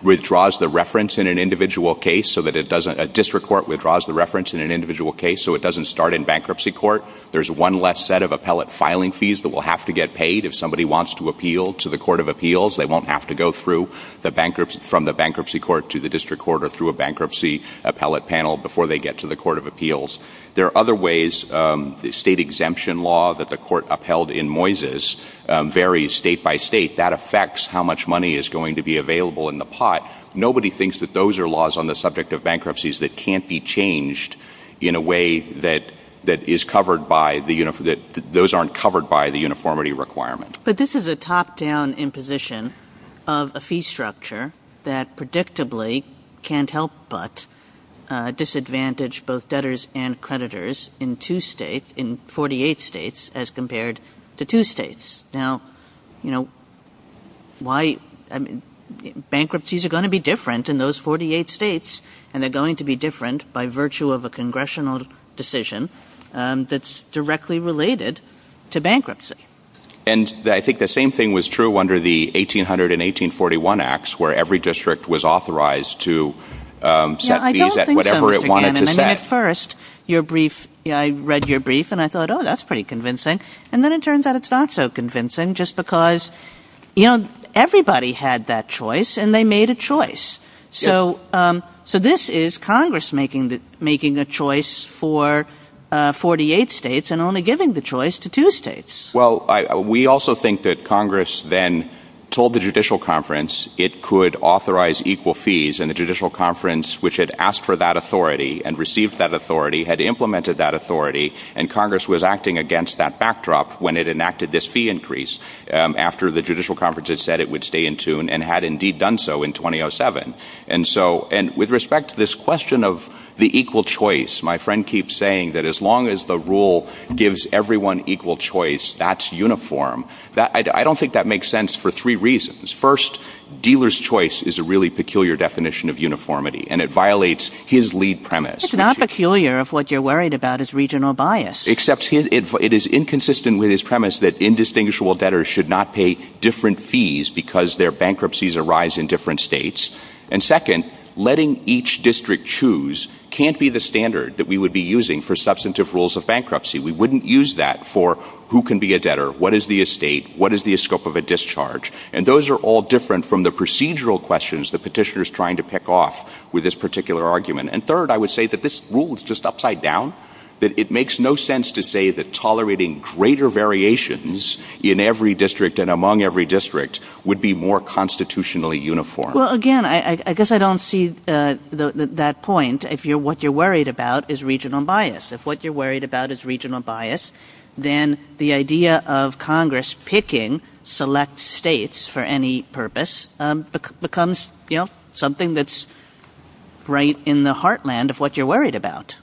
withdraws the reference in an individual case so that it doesn't – a district court withdraws the reference in an individual case so it doesn't start in bankruptcy court, there's one less set of appellate filing fees that will have to get paid. If somebody wants to appeal to the court of appeals, they won't have to go through the bankruptcy – from the bankruptcy court to the district court or through a bankruptcy appellate panel before they get to the court of appeals. There are other ways. The state exemption law that the court upheld in Moises varies state by state. That affects how much money is going to be available in the pot. Nobody thinks that those are laws on the subject of bankruptcies that can't be changed in a way that is covered by the – that those aren't covered by the uniformity requirement. But this is a top-down imposition of a fee structure that predictably can't help but disadvantage both debtors and creditors in two states – in 48 states as compared to two states. Now, you know, why – bankruptcies are going to be different in those 48 states and they're going to be different by virtue of a congressional decision that's directly related to bankruptcy. And I think the same thing was true under the 1800 and 1841 acts where every district was authorized to set fees at whatever it wanted to set. I don't think so. At first, your brief – I read your brief and I thought, oh, that's pretty convincing. And then it turns out it's not so convincing just because, you know, everybody had that choice and they made a choice. So this is Congress making the choice for 48 states and only giving the choice to two states. Well, we also think that Congress then told the Judicial Conference it could authorize equal fees and the Judicial Conference, which had asked for that authority and received that authority, had implemented that authority, and Congress was acting against that backdrop when it enacted this fee increase after the Judicial Conference had said it would stay in tune and had indeed done so in 2007. And so – and with respect to this question of the equal choice, my friend keeps saying that as long as the rule gives everyone equal choice, that's uniform. I don't think that makes sense for three reasons. First, dealer's choice is a really peculiar definition of uniformity and it violates his lead premise. It's not peculiar if what you're worried about is regional bias. Except it is inconsistent with his premise that indistinguishable debtors should not pay different fees because their bankruptcies arise in different states. And second, letting each district choose can't be the standard that we would be using for substantive rules of bankruptcy. We wouldn't use that for who can be a debtor, what is the estate, what is the scope of a discharge, and those are all different from the procedural questions the petitioner is trying to pick off with this particular argument. And third, I would say that this rule is just upside down, that it makes no sense to say that tolerating greater variations in every district and among every district would be more constitutionally uniform. Well, again, I guess I don't see that point if what you're worried about is regional bias. If what you're worried about is regional bias, then the idea of Congress picking select states for any purpose becomes something that's right in the heartland of what you're worried about.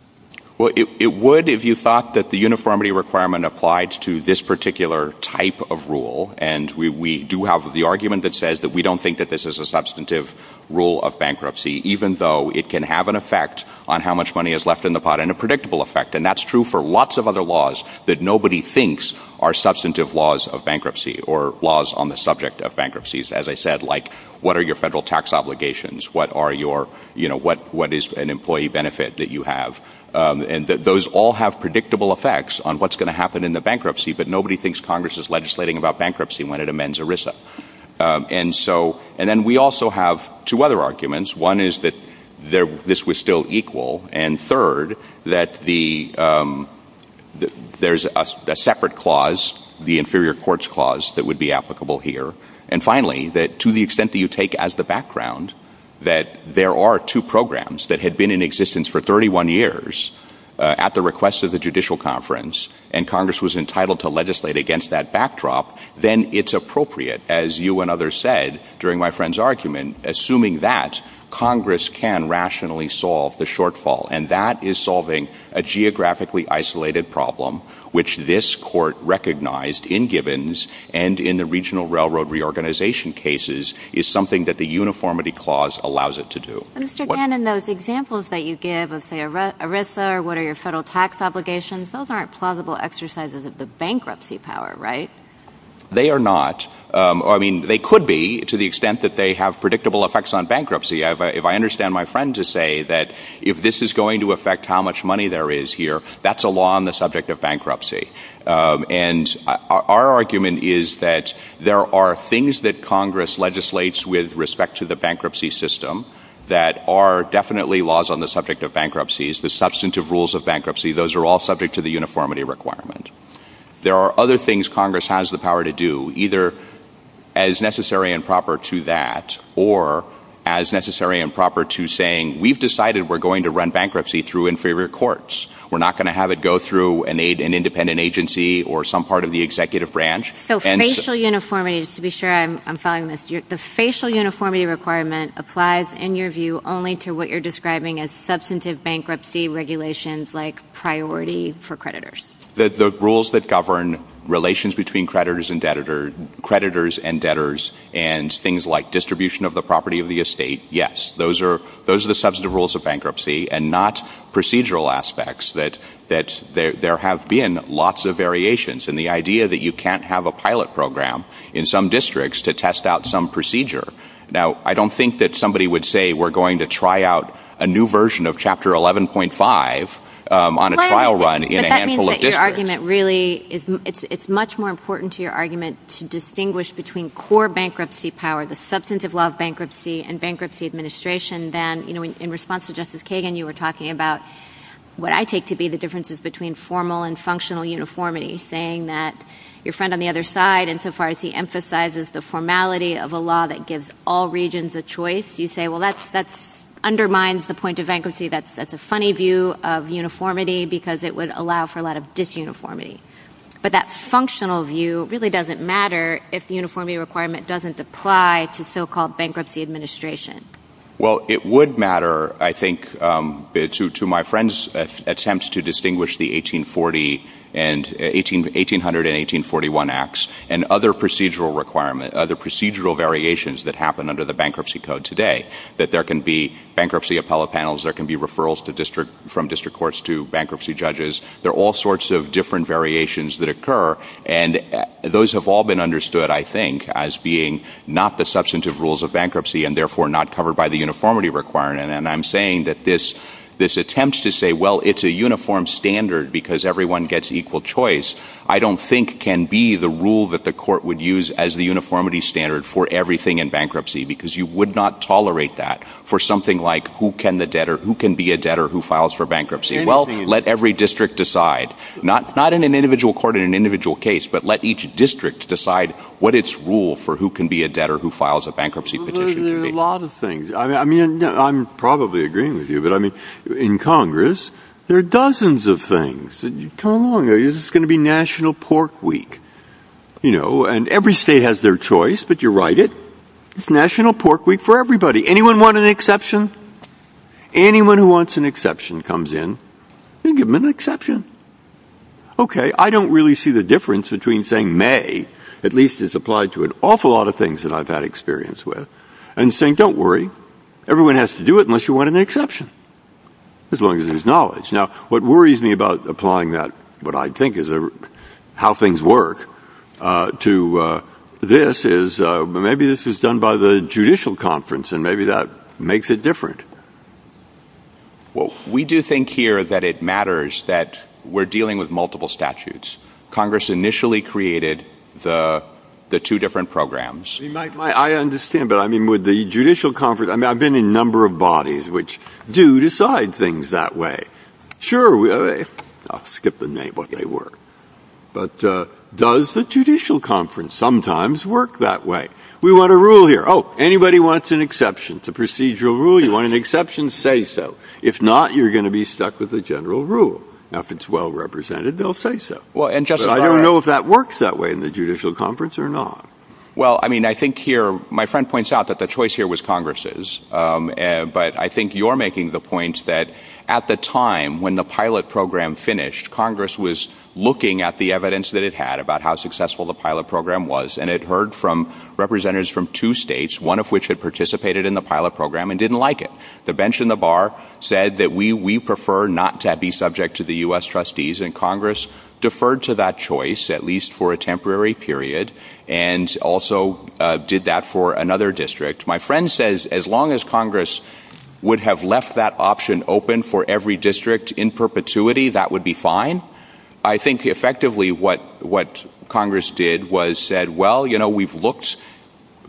Well, it would if you thought that the uniformity requirement applied to this particular type of rule, and we do have the argument that says that we don't think that this is a substantive rule of bankruptcy, even though it can have an effect on how much money is left in the pot and a predictable effect. And that's true for lots of other laws that nobody thinks are substantive laws of bankruptcy or laws on the subject of bankruptcies. As I said, like, what are your federal tax obligations? What is an employee benefit that you have? And those all have predictable effects on what's going to happen in the bankruptcy, but nobody thinks Congress is legislating about bankruptcy when it amends ERISA. And then we also have two other arguments. One is that this was still equal. And third, that there's a separate clause, the inferior courts clause, that would be applicable here. And finally, that to the extent that you take as the background that there are two programs that had been in existence for 31 years at the request of the judicial conference, and you were able to legislate against that backdrop, then it's appropriate, as you and others said during my friend's argument, assuming that Congress can rationally solve the shortfall. And that is solving a geographically isolated problem, which this court recognized in Gibbons and in the regional railroad reorganization cases is something that the uniformity clause allows it to do. Mr. Cannon, those examples that you give of, say, ERISA, or what are your federal tax obligations, those aren't plausible exercises of the bankruptcy power, right? They are not. I mean, they could be to the extent that they have predictable effects on bankruptcy. If I understand my friend to say that if this is going to affect how much money there is here, that's a law on the subject of bankruptcy. And our argument is that there are things that Congress legislates with respect to the bankruptcy system that are definitely laws on the subject of bankruptcies. The substantive rules of bankruptcy, those are all subject to the uniformity requirement. There are other things Congress has the power to do, either as necessary and proper to that, or as necessary and proper to saying, we've decided we're going to run bankruptcy through inferior courts. We're not going to have it go through an independent agency or some part of the executive branch. So facial uniformity, just to be sure I'm following this, the facial uniformity requirement applies in your view only to what you're describing as substantive bankruptcy regulations like priority for creditors? The rules that govern relations between creditors and debtors and things like distribution of the property of the estate, yes. Those are the substantive rules of bankruptcy and not procedural aspects that there have been lots of variations. And the idea that you can't have a pilot program in some districts to test out some procedure. Now, I don't think that somebody would say we're going to try out a new version of chapter 11.5 on a trial run in a handful of districts. But that means that your argument really, it's much more important to your argument to distinguish between core bankruptcy power, the substantive law of bankruptcy and bankruptcy administration than, you know, in response to Justice Kagan, you were talking about what I take to be the differences between formal and functional uniformity, saying that your argument really emphasizes the formality of a law that gives all regions a choice. You say, well, that undermines the point of bankruptcy. That's a funny view of uniformity because it would allow for a lot of disuniformity. But that functional view really doesn't matter if the uniformity requirement doesn't apply to so-called bankruptcy administration. Well, it would matter, I think, to my friend's attempt to distinguish the 1800 and 1841 acts and other procedural requirement, other procedural variations that happen under the bankruptcy code today, that there can be bankruptcy appellate panels, there can be referrals from district courts to bankruptcy judges. There are all sorts of different variations that occur. And those have all been understood, I think, as being not the substantive rules of bankruptcy and therefore not covered by the uniformity requirement. And I'm saying that this attempt to say, well, it's a uniform standard because everyone gets equal choice, I don't think can be the rule that the court would use as the uniformity standard for everything in bankruptcy because you would not tolerate that for something like who can be a debtor who files for bankruptcy. Well, let every district decide, not in an individual court in an individual case, but let each district decide what its rule for who can be a debtor who files a bankruptcy petition. There are a lot of things. I'm probably agreeing with you. But in Congress, there are going to be national pork week. And every state has their choice, but you're right, it's national pork week for everybody. Anyone want an exception? Anyone who wants an exception comes in and give them an exception. Okay. I don't really see the difference between saying may, at least it's applied to an awful lot of things that I've had experience with, and saying don't worry, everyone has to do it unless you want an exception, as long as Now, what worries me about applying that, what I think is how things work to this is maybe this is done by the judicial conference, and maybe that makes it different. Well, we do think here that it matters that we're dealing with multiple statutes. Congress initially created the two different programs. I understand, but I mean, with the judicial conference, I mean, I've been in a number of bodies which do decide things that way. Sure, I'll skip the name of what they were. But does the judicial conference sometimes work that way? We want a rule here. Oh, anybody wants an exception to procedural rule, you want an exception, say so. If not, you're going to be stuck with the general rule. If it's well represented, they'll say so. Well, and just I don't know if that works that way in the judicial conference or not. Well, I mean, I think here, my friend points out that the choice here was Congress's. But I think you're making the point that at the time when the pilot program finished, Congress was looking at the evidence that it had about how successful the pilot program was, and it heard from representatives from two states, one of which had participated in the pilot program and didn't like it. The bench in the bar said that we prefer not to be subject to the U.S. trustees, and Congress deferred to that choice, at least for a temporary period, and also did that for another district. My friend says as long as Congress would have left that option open for every district in perpetuity, that would be fine. I think effectively what Congress did was said, well, you know, we've looked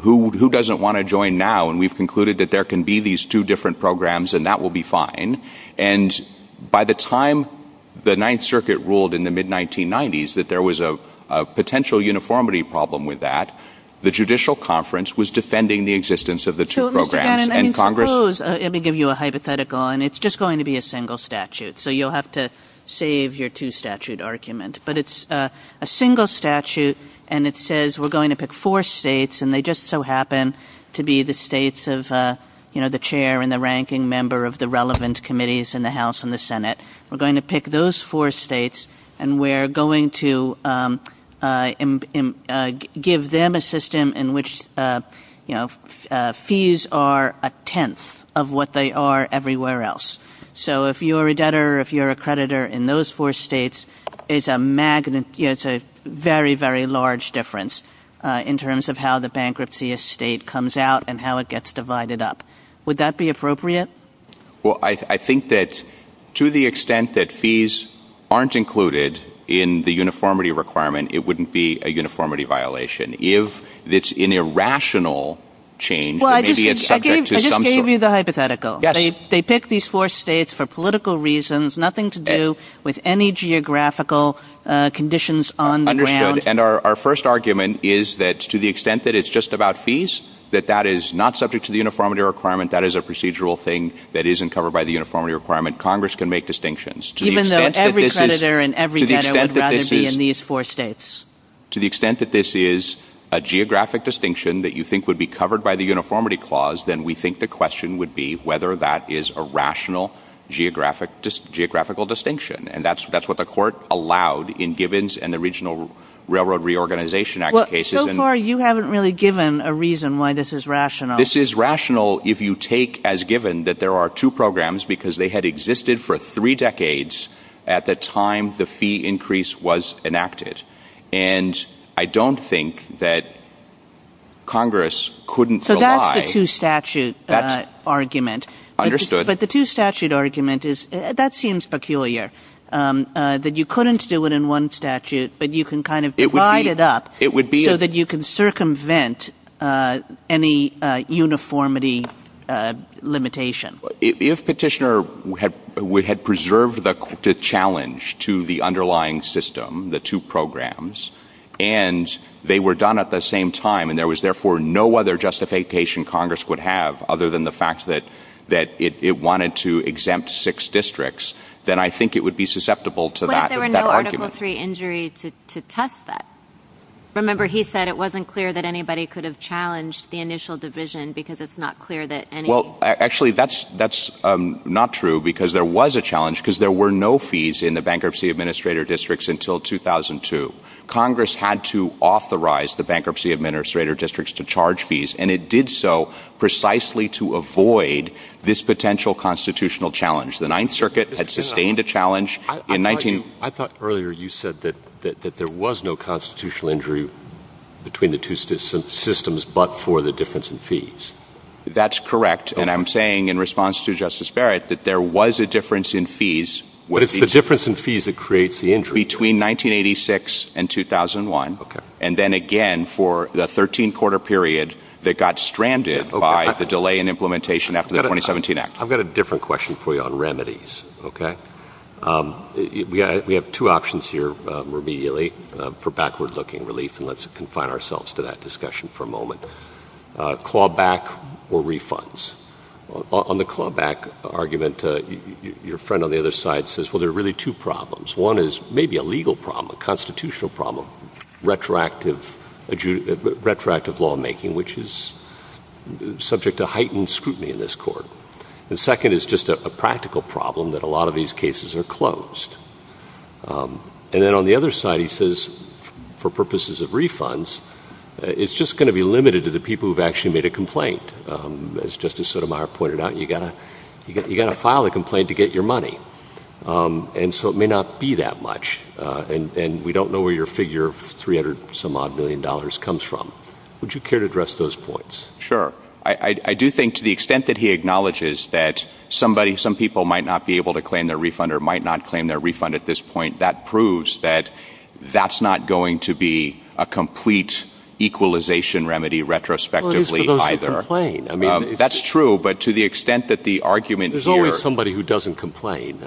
who doesn't want to join now, and we've concluded that there can be these two different programs, and that will be fine. And by the time the Ninth Circuit ruled in the mid-1990s that there was a potential uniformity problem with that, the judicial conference was defending the existence of the two programs and Congress... Let me give you a hypothetical, and it's just going to be a single statute, so you'll have to save your two-statute argument. But it's a single statute, and it says we're going to pick four states, and they just so happen to be the states of, you know, the chair and the ranking member of the relevant committees in the House and the Senate. We're going to pick those four states, and we're going to give them a system in which, you know, fees are a tenth of what they are everywhere else. So if you're a debtor, if you're a creditor in those four states, it's a very, very large difference in terms of how the bankruptcy estate comes out and how it gets divided up. Would that be appropriate? Well, I think that to the extent that fees aren't included in the uniformity requirement, it wouldn't be a uniformity violation. If it's an irrational change, then maybe it's subject to some... Well, I just gave you the hypothetical. Yes. They pick these four states for political reasons, nothing to do with any geographical conditions on the ground. And our first argument is that to the extent that it's just about fees, that that is not subject to the uniformity requirement, that is a procedural thing that isn't covered by the uniformity requirement. Congress can make distinctions. Even though every creditor and every debtor would rather be in these four states. To the extent that this is a geographic distinction that you think would be covered by the uniformity clause, then we think the question would be whether that is a rational geographical distinction. And that's what the court allowed in Givens and the Regional Railroad Reorganization Act cases. Well, so far you haven't really given a reason why this is rational. This is rational if you take as given that there are two programs because they had existed for three decades at the time the fee increase was enacted. And I don't think that Congress couldn't rely... But that's the two statute argument. Understood. But the two statute argument is, that seems peculiar, that you couldn't do it in one statute but you can kind of divide it up so that you can circumvent any uniformity limitation. If Petitioner had preserved the challenge to the underlying system, the two programs, and they were done at the same time and there was therefore no other justification Congress would have other than the fact that it wanted to exempt six districts, then I think it would be susceptible to that argument. But there were no Article III injuries to test that. Remember he said it wasn't clear that anybody could have challenged the initial division because it's not clear that any... Well, actually that's not true because there was a challenge because there were no fees in the bankruptcy administrator districts until 2002. Congress had to authorize the precisely to avoid this potential constitutional challenge. The Ninth Circuit had sustained a challenge in 19... I thought earlier you said that there was no constitutional injury between the two systems but for the difference in fees. That's correct. And I'm saying in response to Justice Barrett that there was a difference in fees. But it's the difference in fees that creates the injury. Between 1986 and 2001 and then again for the 13 quarter period that got stranded by the delay in implementation after the 2017 Act. I've got a different question for you on remedies. We have two options here remedially for backward looking relief and let's confine ourselves to that discussion for a moment. Clawback or refunds. On the clawback argument, your friend on the other side says well there may be a legal problem, a constitutional problem, retroactive lawmaking which is subject to heightened scrutiny in this court. The second is just a practical problem that a lot of these cases are closed. And then on the other side he says for purposes of refunds it's just going to be limited to the people who have actually made a complaint. As Justice Sotomayor pointed out you've got to file a complaint to get your money. And so it may not be that much. And we don't know where your figure of 300 some odd million dollars comes from. Would you care to address those points? Sure. I do think to the extent that he acknowledges that somebody, some people might not be able to claim their refund or might not claim their refund at this point, that proves that that's not going to be a complete equalization remedy retrospectively either. Well he's supposed to complain. That's true. But to the extent that the argument here I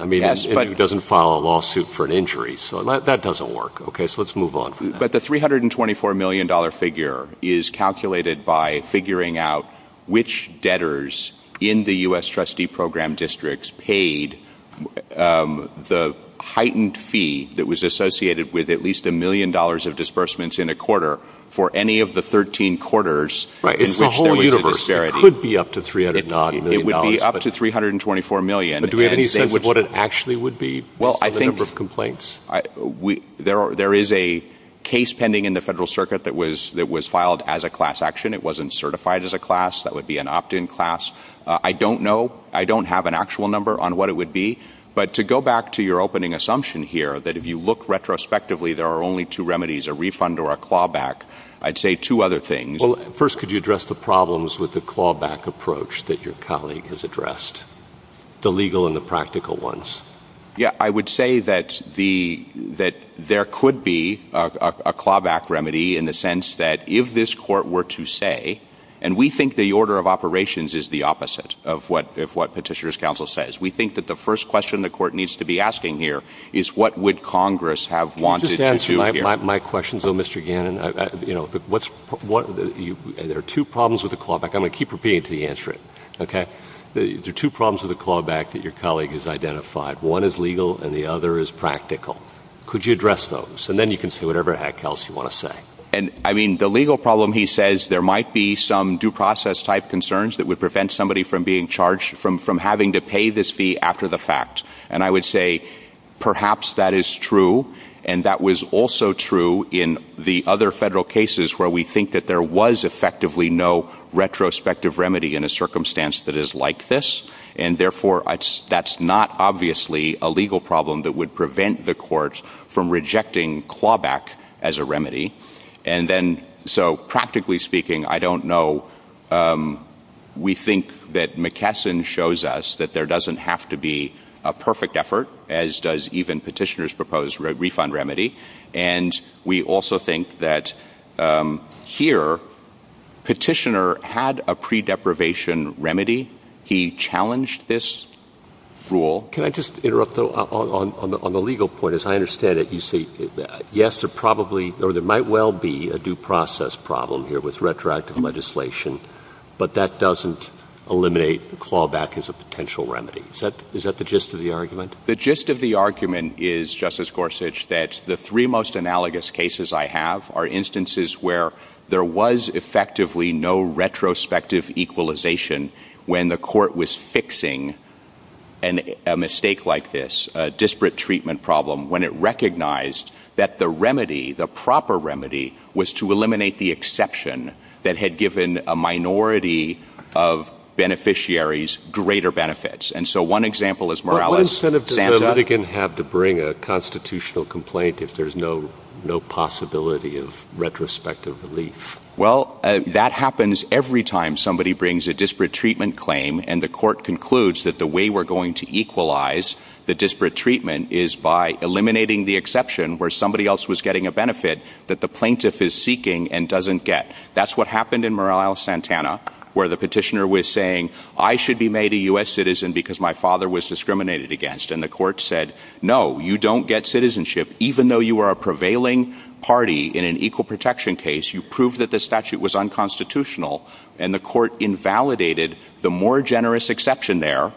mean if he doesn't file a lawsuit for an injury, that doesn't work. So let's move on. But the $324 million figure is calculated by figuring out which debtors in the U.S. trustee program districts paid the heightened fee that was associated with at least a million dollars of disbursements in a quarter for any of the 13 quarters in which there was a disparity. It's the whole universe. It could be up to $300 million. It would be up to $324 million. But do we have any sense of what it actually would be? Well I think... The number of complaints? There is a case pending in the Federal Circuit that was filed as a class action. It wasn't certified as a class. That would be an opt-in class. I don't know. I don't have an actual number on what it would be. But to go back to your opening assumption here that if you look retrospectively there are only two remedies, a refund or a clawback, I'd say two other things. First, could you address the problems with the clawback approach that your colleague has addressed, the legal and the practical ones? Yeah, I would say that there could be a clawback remedy in the sense that if this court were to say, and we think the order of operations is the opposite of what Petitioner's Counsel says. We think that the first question the court needs to be asking here is what would Congress have wanted to do here? My question to Mr. Gannon, you know, there are two problems with the clawback. I'm going to keep repeating until you answer it. Okay? There are two problems with the clawback that your colleague has identified. One is legal and the other is practical. Could you address those? And then you can say whatever the heck else you want to say. I mean, the legal problem he says there might be some due process type concerns that would prevent somebody from being charged, from having to pay this fee after the fact. And I would say perhaps that is true. And that was also true in the other federal cases where we think that there was effectively no retrospective remedy in a circumstance that is like this. And therefore, that's not obviously a legal problem that would prevent the court from rejecting clawback as a remedy. And then, so practically speaking, I don't know. We think that McKesson shows us that there doesn't have to be a perfect effort, as does even Petitioner's proposed refund remedy. And we also think that here Petitioner had a pre-deprivation remedy. He challenged this rule. Can I just interrupt, though, on the legal point? As I understand it, you say yes, there probably or there might well be a due process problem here with retroactive legislation, but that doesn't eliminate clawback as a potential remedy. Is that the gist of the argument? The gist of the argument is, Justice Gorsuch, that the three most analogous cases I have are instances where there was effectively no retrospective equalization when the court was fixing a mistake like this, a disparate treatment problem, when it recognized that the remedy, the proper remedy, was to eliminate the exception that had given a minority of beneficiaries greater benefits. And so one example is Morales. But what incentive does the litigant have to bring a constitutional complaint if there's no possibility of retrospective relief? Well, that happens every time somebody brings a disparate treatment claim and the court concludes that the way we're going to equalize the disparate treatment is by eliminating the exception where somebody else was getting a benefit that the plaintiff is seeking and doesn't get. That's what happened in Morales-Santana, where the petitioner was saying, I should be made a U.S. citizen because my father was discriminated against. And the court said, no, you don't get citizenship even though you are a prevailing party in an equal protection case. You proved that the statute was unconstitutional. And the court invalidated the more generous exception there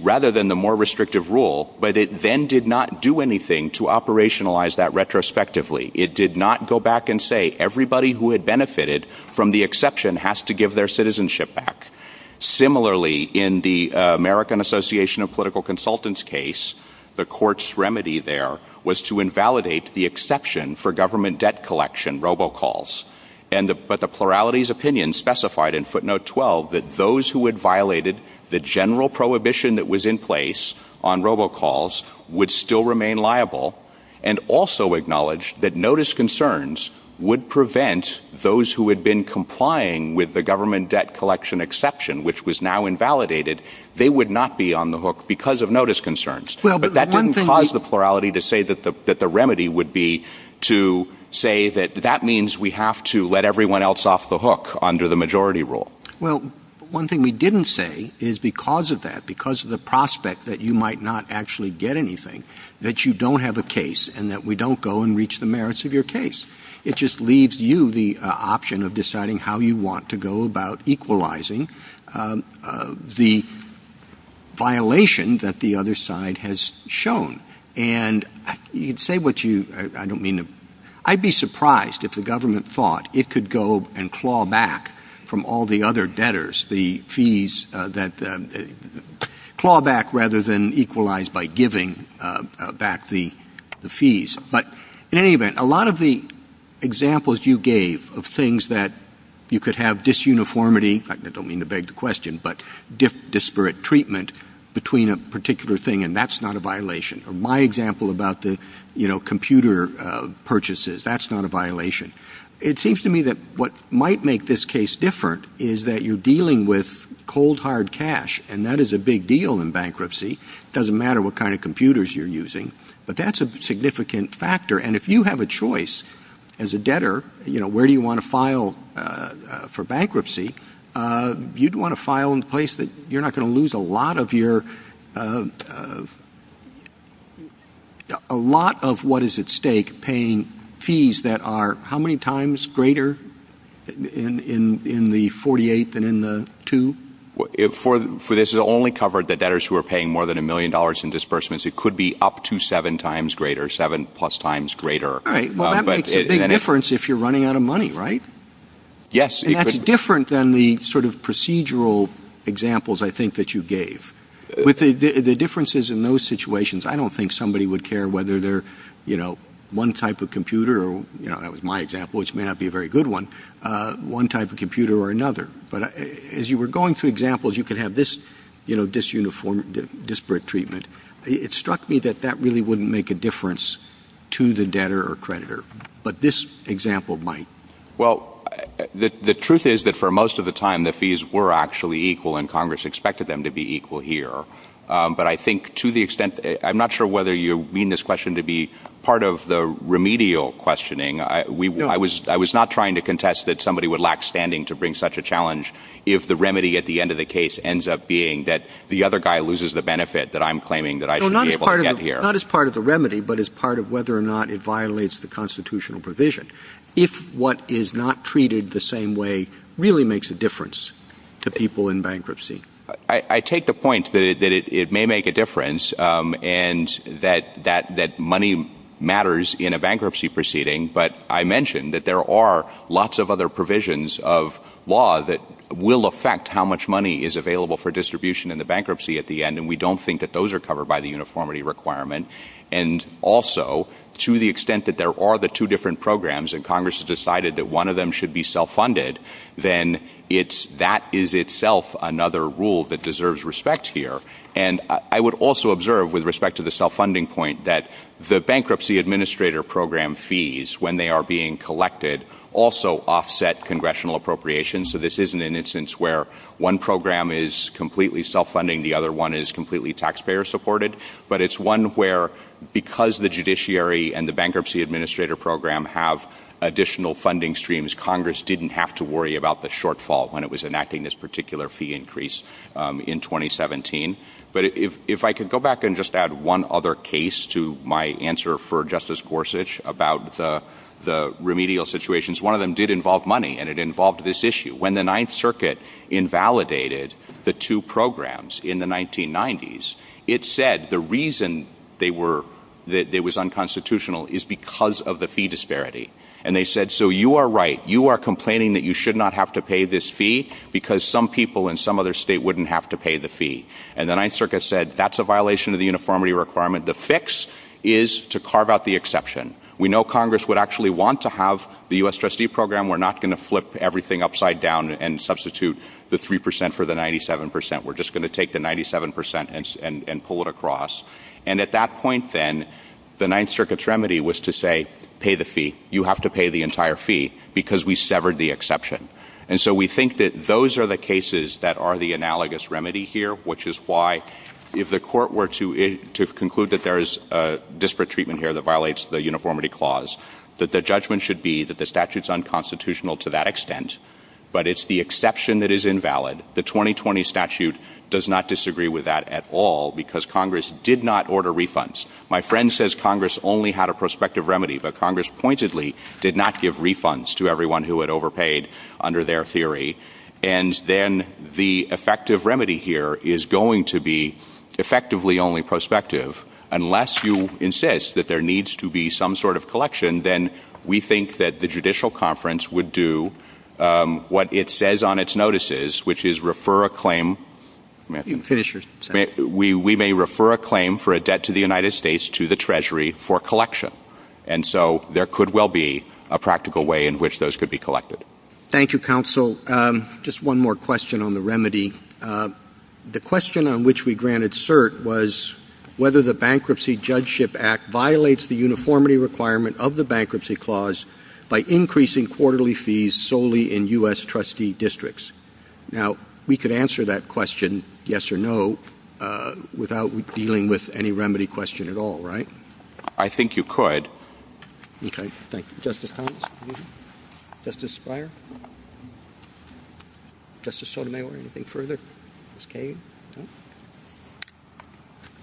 rather than the more restrictive rule, but it then did not do anything to operationalize that retrospectively. It did not go back and say everybody who had benefited from the exception has to give their citizenship back. Similarly, in the American Association of Political Consultants case, the court's remedy there was to invalidate the exception for government debt collection, robocalls. But the plurality's opinion specified in footnote 12 that those who had violated the general prohibition that was in place on robocalls would still remain liable and also acknowledge that notice concerns would prevent those who had been complying with the government debt collection exception, which was now invalidated, they would not be on the hook because of notice concerns. But that didn't cause the plurality to say that the remedy would be to say that that means we have to let everyone else off the hook under the majority rule. Well, one thing we didn't say is because of that, because of the prospect that you might not actually get anything, that you don't have a case and that we don't go and reach the merits of your case. It just leaves you the option of deciding how you want to go about equalizing the violation that the other side has shown. And you'd say what you, I don't mean to, I'd be surprised if the government thought it could go and claw back from all the other debtors the fees that, claw back rather than equalized by giving back the fees. But in any event, a lot of the examples you gave of things that you could have disuniformity, I don't mean to beg the question, but disparate treatment between a particular thing and that's not a violation. My example about the computer purchases, that's not a violation. It seems to me that what might make this case different is that you're dealing with cold hard cash and that is a big deal in bankruptcy. It doesn't matter what kind of computers you're using. But that's a significant factor. And if you have a choice as a debtor, where do you want to file for bankruptcy, you'd lose a lot of your, a lot of what is at stake paying fees that are how many times greater in the 48 than in the two? For this, it only covered the debtors who are paying more than a million dollars in disbursements. It could be up to seven times greater, seven plus times greater. Right, well that makes a big difference if you're running out of money, right? Yes. And that's different than the sort of procedural examples I think that you gave. With the differences in those situations, I don't think somebody would care whether they're, you know, one type of computer or, you know, that was my example, which may not be a very good one, one type of computer or another. But as you were going through examples, you could have this, you know, disuniform, disparate treatment. It struck me that that really wouldn't make a difference to the debtor or creditor, but this example might. Well, the truth is that for most of the time, the fees were actually equal and Congress expected them to be equal here. But I think to the extent, I'm not sure whether you mean this question to be part of the remedial questioning. I was not trying to contest that somebody would lack standing to bring such a challenge if the remedy at the end of the case ends up being that the other guy loses the benefit that I'm claiming that I should be able to get here. Not as part of the remedy, but as part of whether or not it violates the constitutional provision. If what is not treated the same way really makes a difference to people in bankruptcy. I take the point that it may make a difference and that money matters in a bankruptcy proceeding. But I mentioned that there are lots of other provisions of law that will affect how much money is available for distribution in the bankruptcy at the end. And we don't think that those are covered by the uniformity requirement. And also, to the extent that there are the two different programs and Congress has decided that one of them should be self-funded, then that is itself another rule that deserves respect here. And I would also observe with respect to the self-funding point that the bankruptcy administrator program fees, when they are being collected, also offset congressional appropriations. So this isn't an instance where one program is completely self-funding, the other one is completely taxpayer-supported. But it's one where because the judiciary and the bankruptcy administrator program have additional funding streams, Congress didn't have to worry about the shortfall when it was enacting this particular fee increase in 2017. But if I could go back and just add one other case to my answer for Justice Gorsuch about the remedial situations, one of them did involve money and it involved this issue. When the Ninth Circuit invalidated the two programs in the 1990s, it said the reason that it was unconstitutional is because of the fee disparity. And they said, so you are right, you are complaining that you should not have to pay this fee because some people in some other state wouldn't have to pay the fee. And the Ninth Circuit said, that's a violation of the uniformity requirement. The fix is to carve out the exception. We know Congress would actually want to have the U.S. trustee program. We're not going to flip everything upside down and substitute the 3% for the 97%. We're just going to take the 97% and pull it across. And at that point then, the Ninth Circuit's remedy was to say, pay the fee. You have to pay the entire fee because we severed the exception. And so we think that those are the cases that are the analogous remedy here, which is why if the court were to conclude that there is a disparate treatment here that violates the uniformity clause, that the judgment should be that the statute is unconstitutional to that extent, but it's the exception that is invalid. The 2020 statute does not disagree with that at all because Congress did not order refunds. My friend says Congress only had a prospective remedy, but Congress pointedly did not give refunds to everyone who had overpaid under their theory. And then the effective remedy here is going to be effectively only prospective. Unless you insist that there needs to be some sort of collection, then we think that the Judicial Conference would do what it says on its notices, which is refer a claim. We may refer a claim for a debt to the United States to the Treasury for collection. And so there could well be a practical way in which those could be collected. Thank you, counsel. Just one more question on the remedy. The question on which we granted cert was whether the Bankruptcy Judgeship Act violates the uniformity requirement of the bankruptcy clause by increasing quarterly fees solely in U.S. trustee districts. Now, we could answer that question, yes or no, without dealing with any remedy question at all, right? I think you could. Okay. Thank you. Justice Thomas? Justice Beyer? Justice Sotomayor, anything further? Justice Kagan?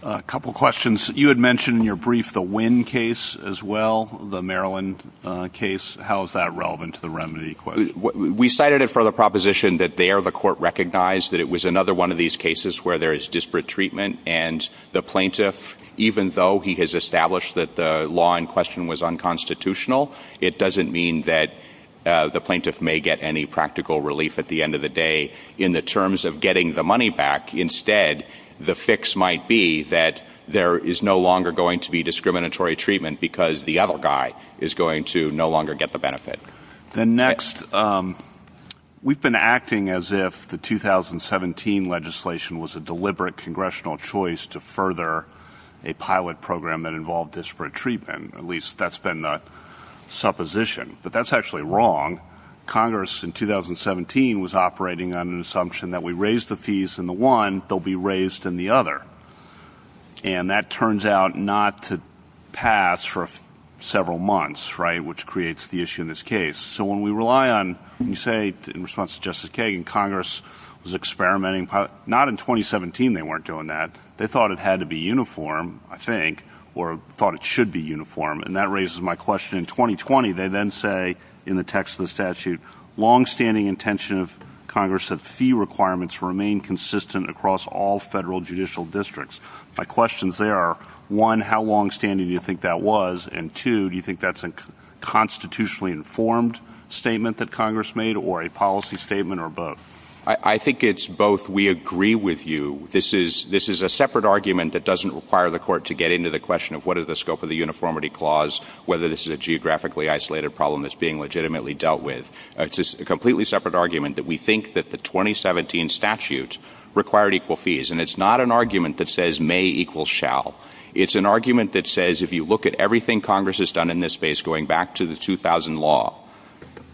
A couple of questions. You had mentioned in your brief the Wynn case as well, the Maryland case. How is that relevant to the remedy question? We cited it for the proposition that there the court recognized that it was another one of these cases where there is disparate treatment and the plaintiff, even though he has established that the law in question was unconstitutional, it doesn't mean that the plaintiff may get any practical relief at the end of the day in the terms of getting the money back. Instead, the fix might be that there is no longer going to be discriminatory treatment because the other guy is going to no longer get the benefit. Then next, we've been acting as if the 2017 legislation was a deliberate congressional choice to further a pilot program that involved disparate treatment. At least that's been the supposition. But that's actually wrong. Congress in 2017 was operating on an assumption that we raise the fees in the one, they'll be raised in the other. And that turns out not to pass for several months, right, which creates the issue in this case. So when we rely on, you say, in response to Justice Kagan, Congress was experimenting, not in 2017 they weren't doing that. They thought it had to be uniform, I think, or thought it should be uniform. And that raises my question. In 2020, they then say in the text of the statute, longstanding intention of Congress of fee requirements remain consistent across all federal judicial districts. My questions there are, one, how longstanding do you think that was? And two, do you think that's a constitutionally informed statement that Congress made or a policy statement or both? I think it's both. We agree with you. This is a separate argument that doesn't require the court to get into the question of what is the scope of the uniformity clause, whether this is a geographically isolated problem that's being legitimately dealt with. It's a completely separate argument that we think that the 2017 statute required equal fees. And it's not an argument that says may equals shall. It's an argument that says if you look at everything Congress has done in this space, going back to the 2000 law,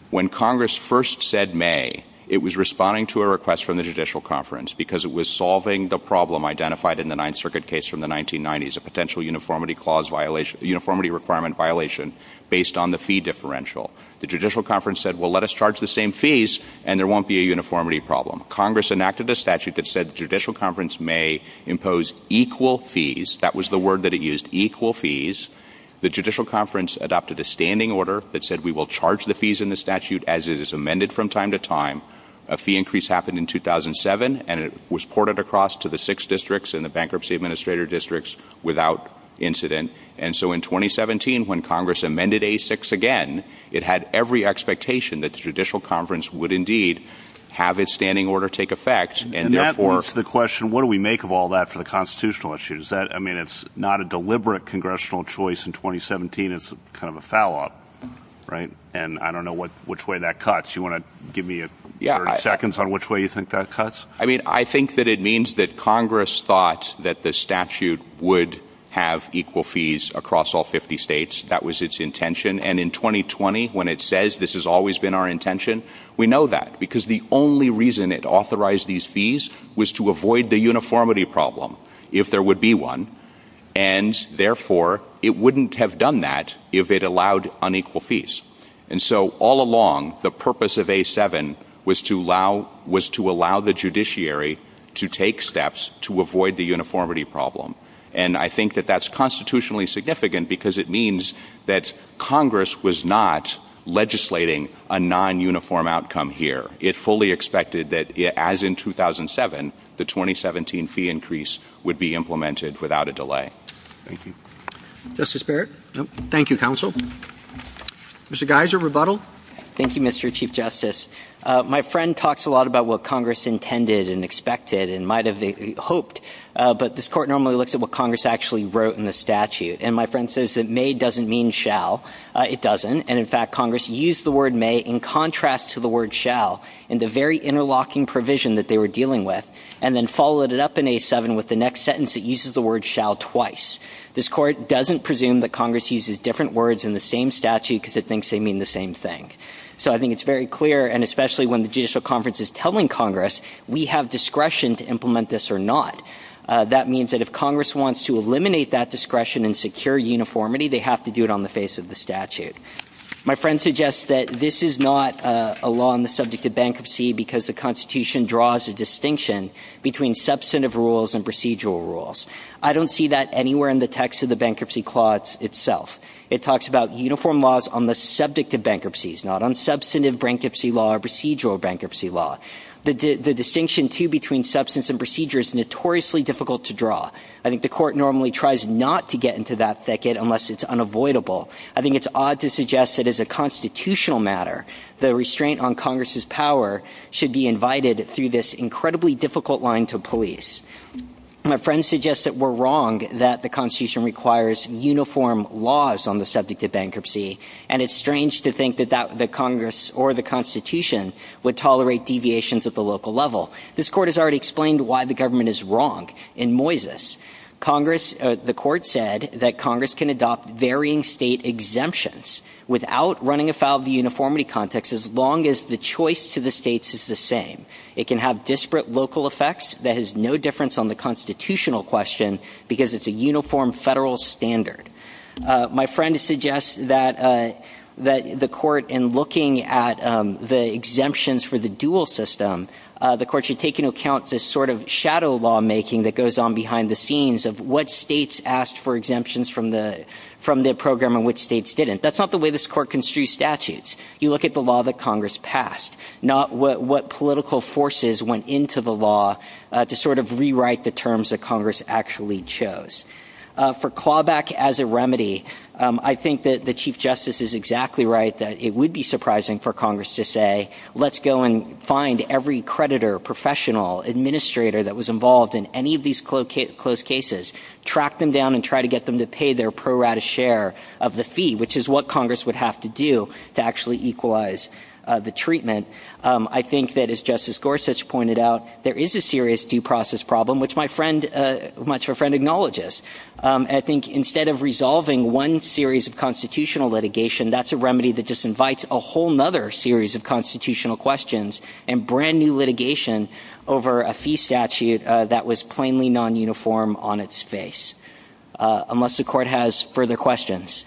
when Congress first said may, it was responding to a request from the judicial conference because it was solving the problem identified in the Ninth Circuit case from the 1990s, a potential uniformity clause violation, uniformity requirement violation based on the fee differential. The judicial conference said, well, let us charge the same fees and there won't be a uniformity problem. Congress enacted a statute that said the judicial conference may impose equal fees. That was the word that was used. Equal fees. The judicial conference adopted a standing order that said we will charge the fees in the statute as it is amended from time to time. A fee increase happened in 2007 and it was ported across to the six districts and the bankruptcy administrator districts without incident. And so in 2017, when Congress amended a six again, it had every expectation that the judicial conference would indeed have a standing order take effect. The question, what do we make of all that for the constitutional issues that I mean, it's not a deliberate congressional choice in 2017. It's kind of a fallout. Right. And I don't know what which way that cuts. You want to give me seconds on which way you think that cuts. I mean, I think that it means that Congress thought that the statute would have equal fees across all 50 states. That was its intention. And in 2020, when it says this has always been our intention, we know that because the only reason it authorized these fees was to avoid the uniformity problem if there would be one. And therefore, it wouldn't have done that if it allowed unequal fees. And so all along, the purpose of a seven was to allow was to allow the judiciary to take steps to avoid the uniformity problem. And I think that that's constitutionally significant because it means that Congress was not legislating a non-uniform outcome here. It fully expected that as in 2007, the 2017 fee increase would be implemented without a delay. Justice Barrett. Thank you, counsel. Mr. Geiser, rebuttal. Thank you, Mr. Chief Justice. My friend talks a lot about what Congress intended and expected and might have hoped. But this court normally looks at what Congress actually wrote in the statute. And my friend says that may doesn't mean shall. It doesn't. And in fact, Congress used the word may in contrast to the word shall in the very interlocking provision that they were dealing with and then followed it up in a seven with the next sentence. It uses the word shall twice. This court doesn't presume that Congress uses different words in the same statute because it thinks they mean the same thing. So I think it's very clear, and especially when the judicial conference is telling Congress we have discretion to implement this or not. That means that if Congress wants to eliminate that discretion and secure uniformity, they have to do it on the face of the statute. My friend suggests that this is not a law on the subject of bankruptcy because the Constitution draws a distinction between substantive rules and procedural rules. I don't see that anywhere in the text of the The distinction, too, between substance and procedure is notoriously difficult to draw. I think the court normally tries not to get into that thicket unless it's unavoidable. I think it's odd to suggest that as a constitutional matter, the restraint on Congress's power should be invited through this incredibly difficult line to police. My friend suggests that we're wrong, that the Constitution requires uniform laws on the subject of bankruptcy, and it's strange to think that Congress or the Constitution would tolerate deviations at the local level. This court has already explained why the government is wrong in Moises. The court said that Congress can adopt varying state exemptions without running afoul of the uniformity context as long as the choice to the states is the same. It can have disparate local effects that has no difference on the And my friend suggests that the court, in looking at the exemptions for the dual system, the court should take into account this sort of shadow lawmaking that goes on behind the scenes of what states asked for exemptions from the program and which states didn't. That's not the way this court construes statutes. You look at the law that Congress passed, not what political forces went into the law to sort of rewrite the terms that Congress actually chose. For clawback as a remedy, I think that the Chief Justice is exactly right, that it would be surprising for Congress to say, let's go and find every creditor, professional, administrator that was involved in any of these closed cases, track them down, and try to get them to pay their pro rata share of the fee, which is what Congress would have to do to actually equalize the treatment. I think that, as Justice Gorsuch pointed out, there is a serious due process problem, which my friend, much of a friend, acknowledges. I think instead of resolving one series of constitutional litigation, that's a remedy that just invites a whole other series of constitutional questions and brand new litigation over a fee statute that was plainly non-uniform on its face. Unless the court has further questions.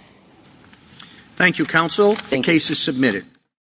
Thank you, Counsel. The case is submitted.